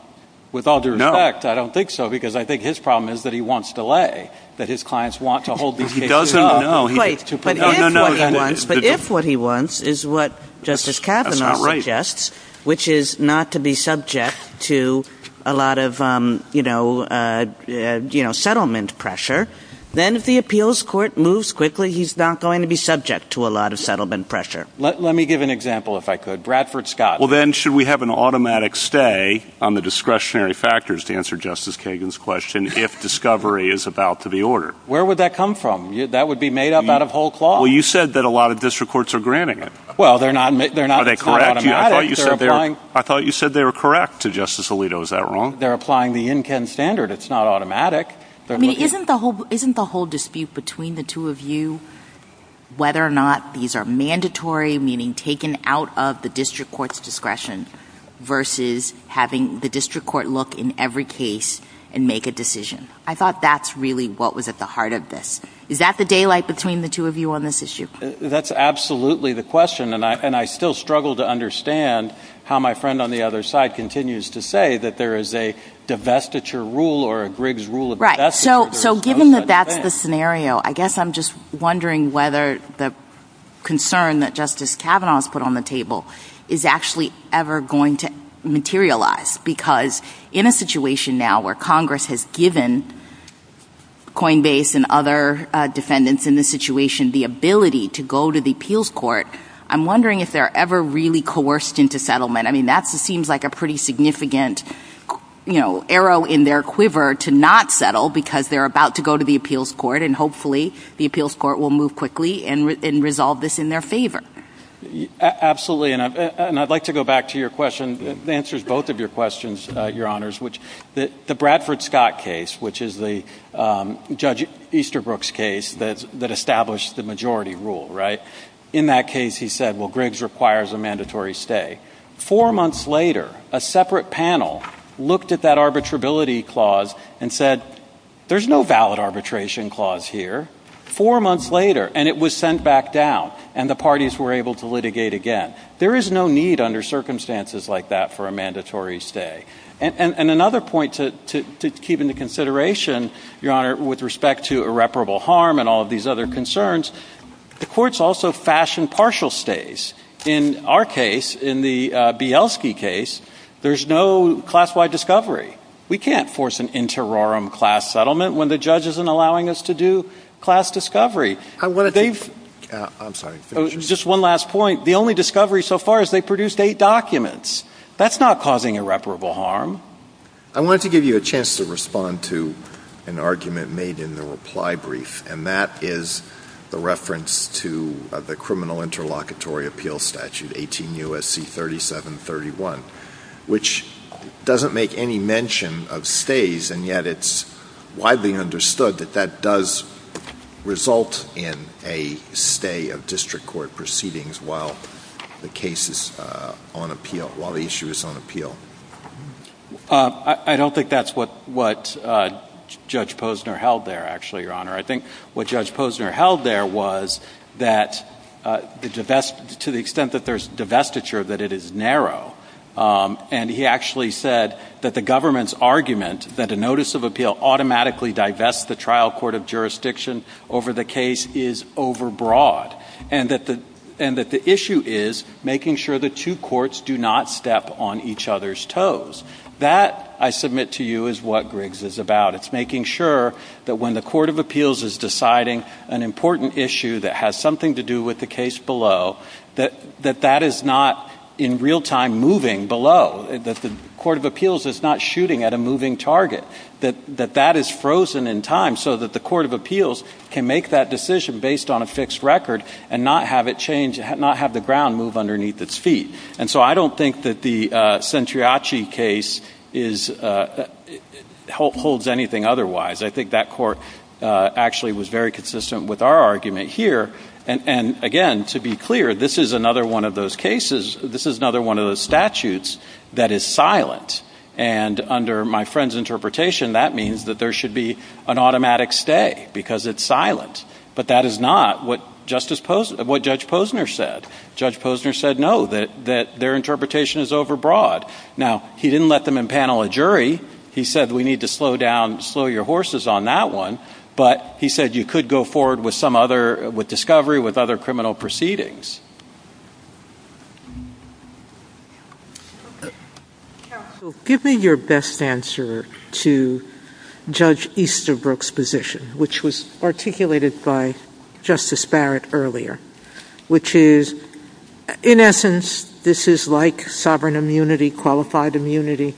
with all due respect, I don't think so because I think his problem is that he wants delay, that his clients want to hold these cases up. But if what he wants is what Justice Kavanaugh suggests, which is not to be subject to a lot of settlement pressure, then if the appeals court moves quickly, he's not going to be subject to a lot of settlement pressure. Let me give an example if I could. Bradford Scott. Well, then should we have an automatic stay on the discretionary factors to answer Justice Kagan's question if discovery is about to be ordered? Where would that come from? That would be made up out of whole clause. Well, you said that a lot of district courts are granting it. Well, they're not automatic. I thought you said they were correct to Justice Alito. Is that wrong? They're applying the INCEN standard. It's not automatic. Isn't the whole dispute between the two of you whether or not these are mandatory, meaning taken out of the district court's discretion, versus having the district court look in every case and make a decision? I thought that's really what was at the heart of this. Is that the daylight between the two of you on this issue? That's absolutely the question, and I still struggle to understand how my friend on the other side continues to say that there is a divestiture rule Right, so given that that's the scenario, I guess I'm just wondering whether the concern that Justice Kavanaugh has put on the table is actually ever going to materialize, because in a situation now where Congress has given Coinbase and other defendants in this situation the ability to go to the appeals court, I'm wondering if they're ever really coerced into settlement. I mean, that seems like a pretty significant arrow in their quiver to not settle because they're about to go to the appeals court, and hopefully the appeals court will move quickly and resolve this in their favor. Absolutely, and I'd like to go back to your question. It answers both of your questions, Your Honors. The Bradford Scott case, which is Judge Easterbrook's case that established the majority rule, right? Four months later, a separate panel looked at that arbitrability clause and said, there's no valid arbitration clause here. Four months later, and it was sent back down, and the parties were able to litigate again. There is no need under circumstances like that for a mandatory stay. And another point to keep into consideration, Your Honor, with respect to irreparable harm and all of these other concerns, the courts also fashion partial stays. In our case, in the Bielski case, there's no class-wide discovery. We can't force an inter rorum class settlement when the judge isn't allowing us to do class discovery. I'm sorry. Just one last point. The only discovery so far is they produced eight documents. That's not causing irreparable harm. I wanted to give you a chance to respond to an argument made in the reply brief, and that is the reference to the criminal interlocutory appeal statute, 18 U.S.C. 3731, which doesn't make any mention of stays, and yet it's widely understood that that does result in a stay of district court proceedings while the case is on appeal, while the issue is on appeal. I don't think that's what Judge Posner held there, actually, Your Honor. I think what Judge Posner held there was that to the extent that there's divestiture, that it is narrow, and he actually said that the government's argument that a notice of appeal automatically divests the trial court of jurisdiction over the case is overbroad, and that the issue is making sure the two courts do not step on each other's toes. That, I submit to you, is what Griggs is about. It's making sure that when the court of appeals is deciding an important issue that has something to do with the case below, that that is not in real time moving below, that the court of appeals is not shooting at a moving target, that that is frozen in time so that the court of appeals can make that decision based on a fixed record and not have it change, not have the ground move underneath its feet. And so I don't think that the Centriachi case holds anything otherwise. I think that court actually was very consistent with our argument here. And again, to be clear, this is another one of those cases, this is another one of those statutes that is silent. And under my friend's interpretation, that means that there should be an automatic stay because it's silent. But that is not what Judge Posner said. Judge Posner said no, that their interpretation is overbroad. Now, he didn't let them impanel a jury. He said we need to slow down, slow your horses on that one. But he said you could go forward with some other, with discovery, with other criminal proceedings. Give me your best answer to Judge Easterbrook's position, which was articulated by Justice Barrett earlier, which is, in essence, this is like sovereign immunity, qualified immunity,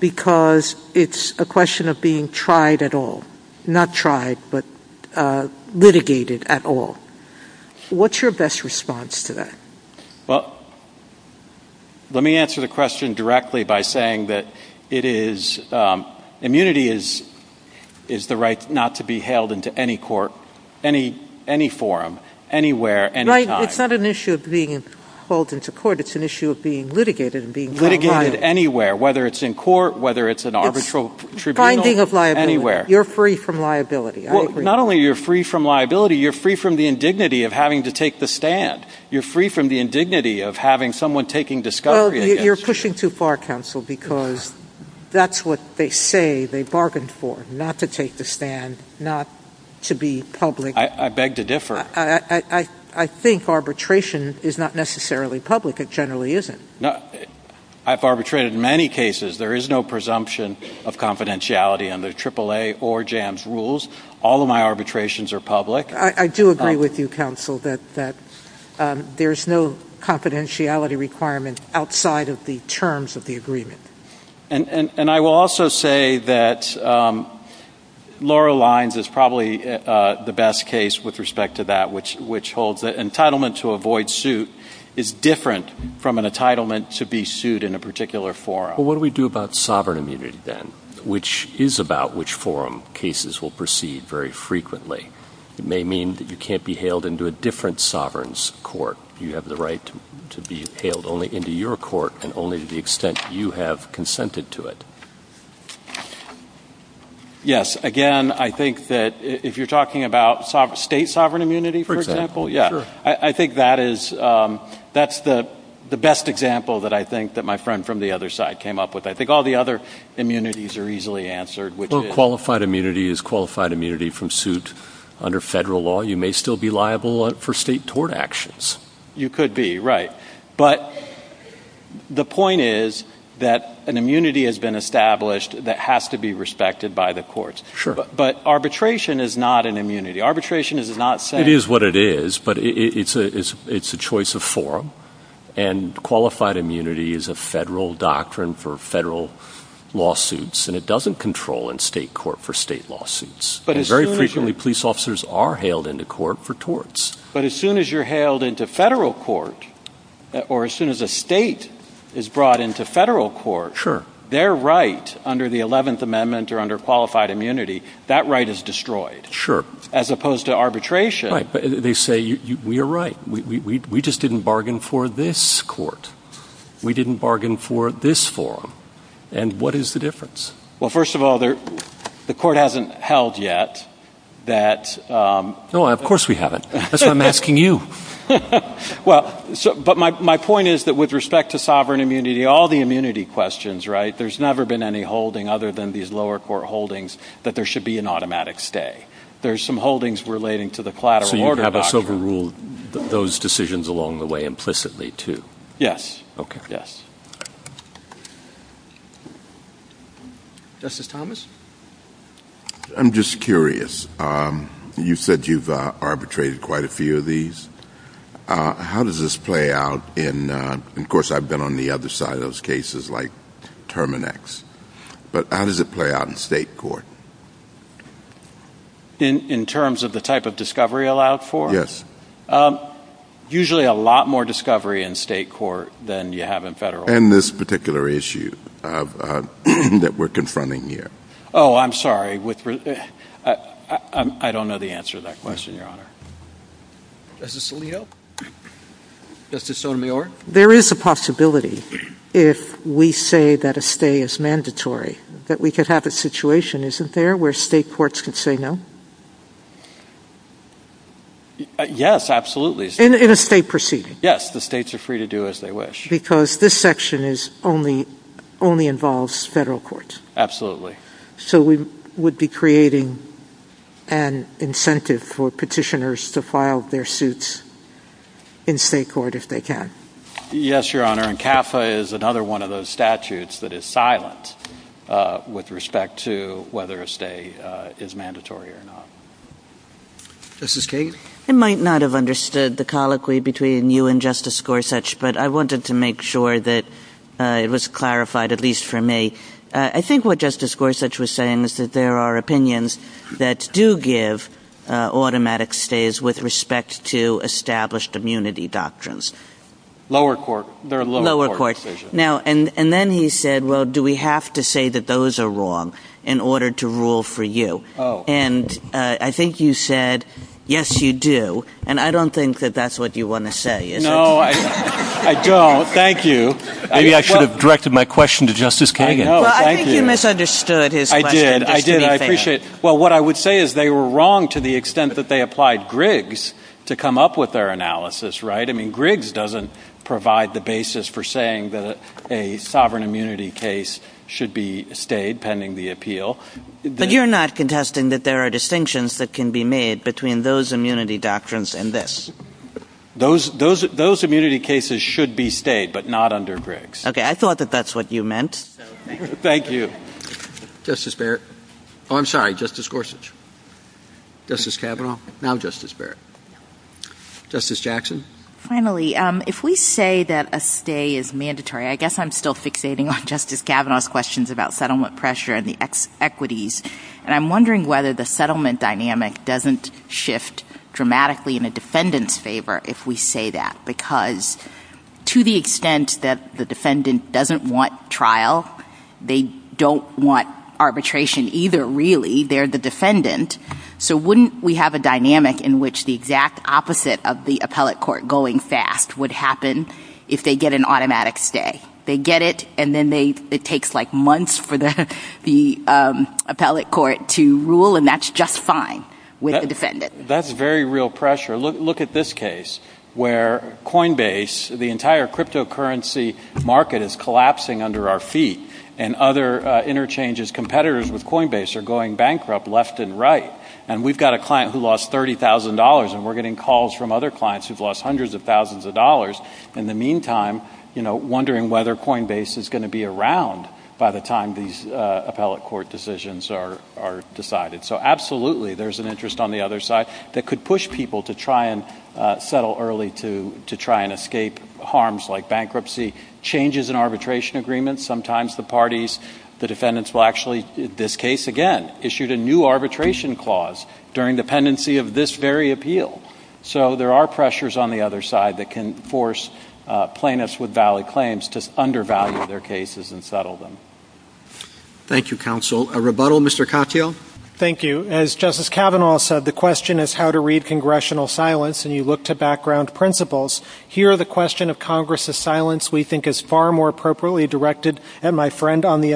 because it's a question of being tried at all, not tried, but litigated at all. What's your best response to that? Well, let me answer the question directly by saying that it is, immunity is the right not to be held into any court, any forum, anywhere, any time. Right, it's not an issue of being held into court, it's an issue of being litigated and being liable. Litigated anywhere, whether it's in court, whether it's an arbitral tribunal. Finding of liability. Anywhere. You're free from liability. Well, not only are you free from liability, you're free from the indignity of having to take the stand. You're free from the indignity of having someone taking discovery against you. You're pushing too far, counsel, because that's what they say they bargained for, not to take the stand, not to be public. I beg to differ. I think arbitration is not necessarily public, it generally isn't. I've arbitrated in many cases. There is no presumption of confidentiality under AAA or JAMS rules. All of my arbitrations are public. I do agree with you, counsel, that there's no confidentiality requirement outside of the terms of the agreement. And I will also say that Laura Lyons is probably the best case with respect to that, which holds that entitlement to avoid suit is different from an entitlement to be sued in a particular forum. Well, what do we do about sovereign immunity, then, which is about which forum cases will proceed very frequently? It may mean that you can't be hailed into a different sovereign's court. You have the right to be hailed only into your court and only to the extent you have consented to it. Yes, again, I think that if you're talking about state sovereign immunity, for example, I think that's the best example that I think that my friend from the other side came up with. I think all the other immunities are easily answered. Qualified immunity is qualified immunity from suit under federal law. You may still be liable for state tort actions. You could be, right. But the point is that an immunity has been established that has to be respected by the courts. But arbitration is not an immunity. It is what it is, but it's a choice of forum. And qualified immunity is a federal doctrine for federal lawsuits, and it doesn't control in state court for state lawsuits. Very frequently, police officers are hailed into court for torts. But as soon as you're hailed into federal court or as soon as a state is brought into federal court, their right under the 11th Amendment or under qualified immunity, that right is destroyed. Sure. As opposed to arbitration. They say, we are right. We just didn't bargain for this court. We didn't bargain for this forum. And what is the difference? Well, first of all, the court hasn't held yet that. No, of course we haven't. That's why I'm asking you. Well, but my point is that with respect to sovereign immunity, all the immunity questions, right, there's never been any holding other than these lower court holdings that there should be an automatic stay. There's some holdings relating to the collateral order doctrine. So you have a silver rule with those decisions along the way implicitly, too. Yes. Okay. Justice Thomas? I'm just curious. You said you've arbitrated quite a few of these. How does this play out? And, of course, I've been on the other side of those cases like Terminex. But how does it play out in state court? In terms of the type of discovery allowed for? Yes. Usually a lot more discovery in state court than you have in federal court. And this particular issue that we're confronting here. Oh, I'm sorry. I don't know the answer to that question, Your Honor. Justice Alito? Justice Sotomayor? There is a possibility if we say that a stay is mandatory that we could have a situation, isn't there, where state courts could say no? Yes, absolutely. In a state proceeding? Yes, the states are free to do as they wish. Because this section only involves federal courts. Absolutely. So we would be creating an incentive for petitioners to file their suits in state court if they can. Yes, Your Honor. And CAFA is another one of those statutes that is silent with respect to whether a stay is mandatory or not. Justice Gates? I might not have understood the colloquy between you and Justice Gorsuch, but I wanted to make sure that it was clarified, at least for me. I think what Justice Gorsuch was saying is that there are opinions that do give automatic stays with respect to established immunity doctrines. Lower court. Lower court. And then he said, well, do we have to say that those are wrong in order to rule for you? Oh. And I think you said, yes, you do. And I don't think that that's what you want to say, is it? No, I don't. Thank you. Maybe I should have directed my question to Justice Kagan. Well, I think you misunderstood his question. I did. I did. I appreciate it. Well, what I would say is they were wrong to the extent that they applied Griggs to come up with their analysis, right? I mean, Griggs doesn't provide the basis for saying that a sovereign immunity case should be stayed pending the appeal. But you're not contesting that there are distinctions that can be made between those immunity doctrines and this. Those immunity cases should be stayed, but not under Griggs. Okay. I thought that that's what you meant. Thank you. Justice Barrett. Oh, I'm sorry. Justice Gorsuch. Justice Kavanaugh. Now Justice Barrett. Justice Jackson. Finally, if we say that a stay is mandatory, I guess I'm still fixating on Justice Kavanaugh's questions about settlement pressure and the equities. And I'm wondering whether the settlement dynamic doesn't shift dramatically in a defendant's favor if we say that. Because to the extent that the defendant doesn't want trial, they don't want arbitration either, really. They're the defendant. So wouldn't we have a dynamic in which the exact opposite of the appellate court going fast would happen if they get an automatic stay? They get it, and then it takes like months for the appellate court to rule, and that's just fine with the defendant. That's very real pressure. Look at this case where Coinbase, the entire cryptocurrency market is collapsing under our feet, and other interchanges' competitors with Coinbase are going bankrupt left and right. And we've got a client who lost $30,000, and we're getting calls from other clients who've lost hundreds of thousands of dollars. In the meantime, you know, wondering whether Coinbase is going to be around by the time these appellate court decisions are decided. So absolutely there's an interest on the other side that could push people to try and settle early to try and escape harms like bankruptcy. Changes in arbitration agreements, sometimes the parties, the defendants will actually, in this case again, issue a new arbitration clause during dependency of this very appeal. So there are pressures on the other side that can force plaintiffs with valid claims to undervalue their cases and settle them. Thank you, counsel. A rebuttal, Mr. Katyal? Thank you. As Justice Kavanaugh said, the question is how to read congressional silence, and you look to background principles. Here the question of Congress' silence we think is far more appropriately directed at my friend on the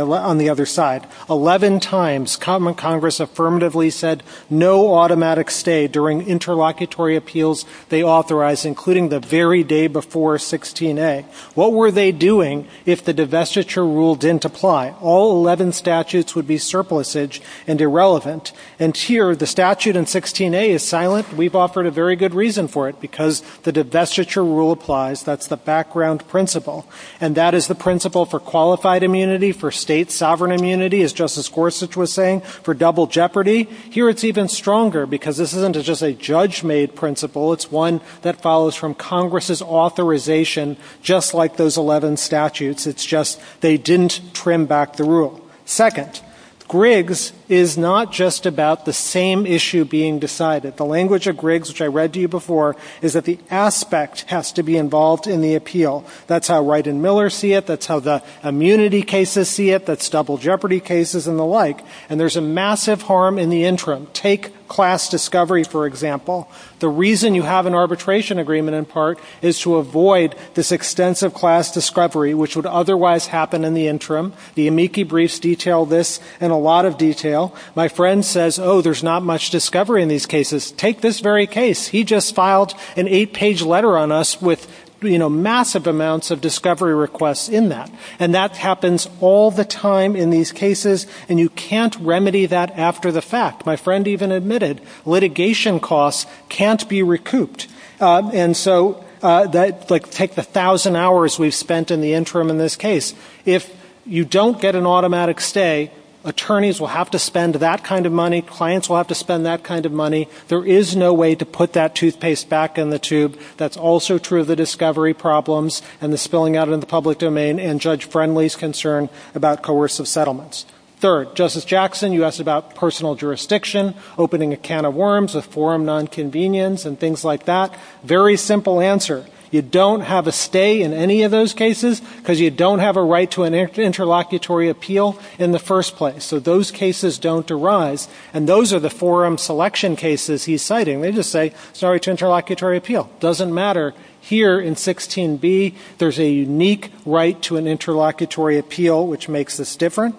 other side. Eleven times Congress affirmatively said no automatic stay during interlocutory appeals they authorize, including the very day before 16A. What were they doing if the divestiture rule didn't apply? All 11 statutes would be surplusage and irrelevant. And here the statute in 16A is silent. We've offered a very good reason for it because the divestiture rule applies. That's the background principle. And that is the principle for qualified immunity, for state sovereign immunity, as Justice Gorsuch was saying, for double jeopardy. Here it's even stronger because this isn't just a judge-made principle. It's one that follows from Congress' authorization, just like those 11 statutes. It's just they didn't trim back the rule. Second, Griggs is not just about the same issue being decided. The language of Griggs, which I read to you before, is that the aspect has to be involved in the appeal. That's how Wright and Miller see it. That's how the immunity cases see it. That's double jeopardy cases and the like. And there's a massive harm in the interim. Take class discovery, for example. The reason you have an arbitration agreement, in part, is to avoid this extensive class discovery, which would otherwise happen in the interim. The amici briefs detail this in a lot of detail. My friend says, oh, there's not much discovery in these cases. Take this very case. He just filed an eight-page letter on us with, you know, massive amounts of discovery requests in that. And that happens all the time in these cases, and you can't remedy that after the fact. My friend even admitted litigation costs can't be recouped. And so take the thousand hours we've spent in the interim in this case. If you don't get an automatic stay, attorneys will have to spend that kind of money. Clients will have to spend that kind of money. There is no way to put that toothpaste back in the tube. That's also true of the discovery problems and the spilling out in the public domain and Judge Friendly's concern about coercive settlements. Third, Justice Jackson, you asked about personal jurisdiction, opening a can of worms, a forum nonconvenience, and things like that. Very simple answer. You don't have a stay in any of those cases because you don't have a right to an interlocutory appeal in the first place. So those cases don't arise, and those are the forum selection cases he's citing. They just say, sorry to interlocutory appeal. Doesn't matter. Here in 16B, there's a unique right to an interlocutory appeal, which makes this different.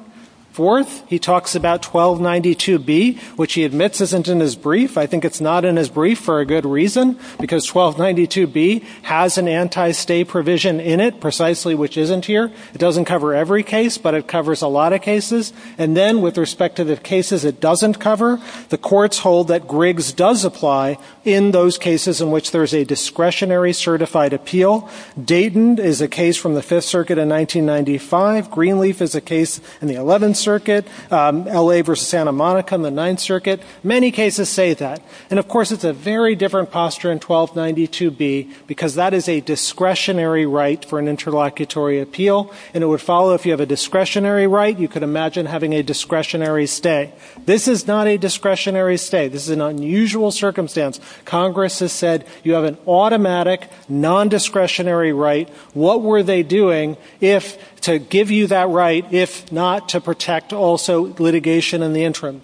Fourth, he talks about 1292B, which he admits isn't in his brief. I think it's not in his brief for a good reason, because 1292B has an anti-stay provision in it, precisely, which isn't here. It doesn't cover every case, but it covers a lot of cases. And then with respect to the cases it doesn't cover, the courts hold that Griggs does apply in those cases in which there's a discretionary certified appeal. Dayton is a case from the Fifth Circuit in 1995. Greenleaf is a case in the Eleventh Circuit. L.A. v. Santa Monica in the Ninth Circuit. Many cases say that. And, of course, it's a very different posture in 1292B, because that is a discretionary right for an interlocutory appeal. And it would follow if you have a discretionary right, you could imagine having a discretionary stay. This is not a discretionary stay. This is an unusual circumstance. Congress has said you have an automatic, non-discretionary right. What were they doing to give you that right, if not to protect also litigation in the interim?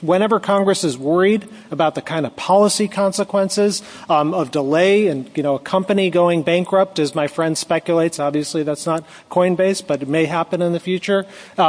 Whenever Congress is worried about the kind of policy consequences of delay and, you know, a company going bankrupt, as my friend speculates. Obviously, that's not Coinbase, but it may happen in the future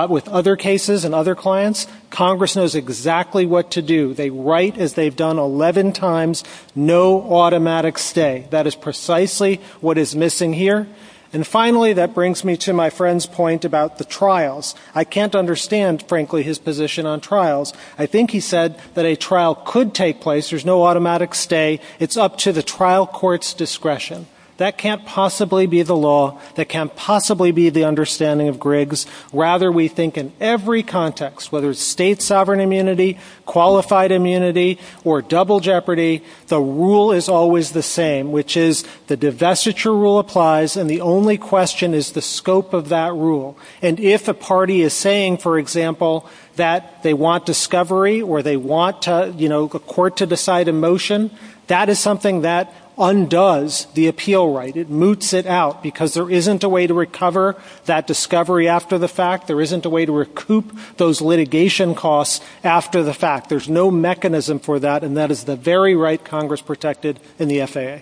with other cases and other clients. Congress knows exactly what to do. They write, as they've done 11 times, no automatic stay. That is precisely what is missing here. And, finally, that brings me to my friend's point about the trials. I can't understand, frankly, his position on trials. I think he said that a trial could take place. There's no automatic stay. It's up to the trial court's discretion. That can't possibly be the law. That can't possibly be the understanding of Griggs. Rather, we think in every context, whether it's state sovereign immunity, qualified immunity, or double jeopardy, the rule is always the same, which is the divestiture rule applies, and the only question is the scope of that rule. And if a party is saying, for example, that they want discovery or they want, you know, a court to decide a motion, that is something that undoes the appeal right. It moots it out because there isn't a way to recover that discovery after the fact. There isn't a way to recoup those litigation costs after the fact. There's no mechanism for that, and that is the very right Congress protected in the FAA.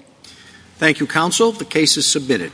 Thank you, counsel. The case is submitted.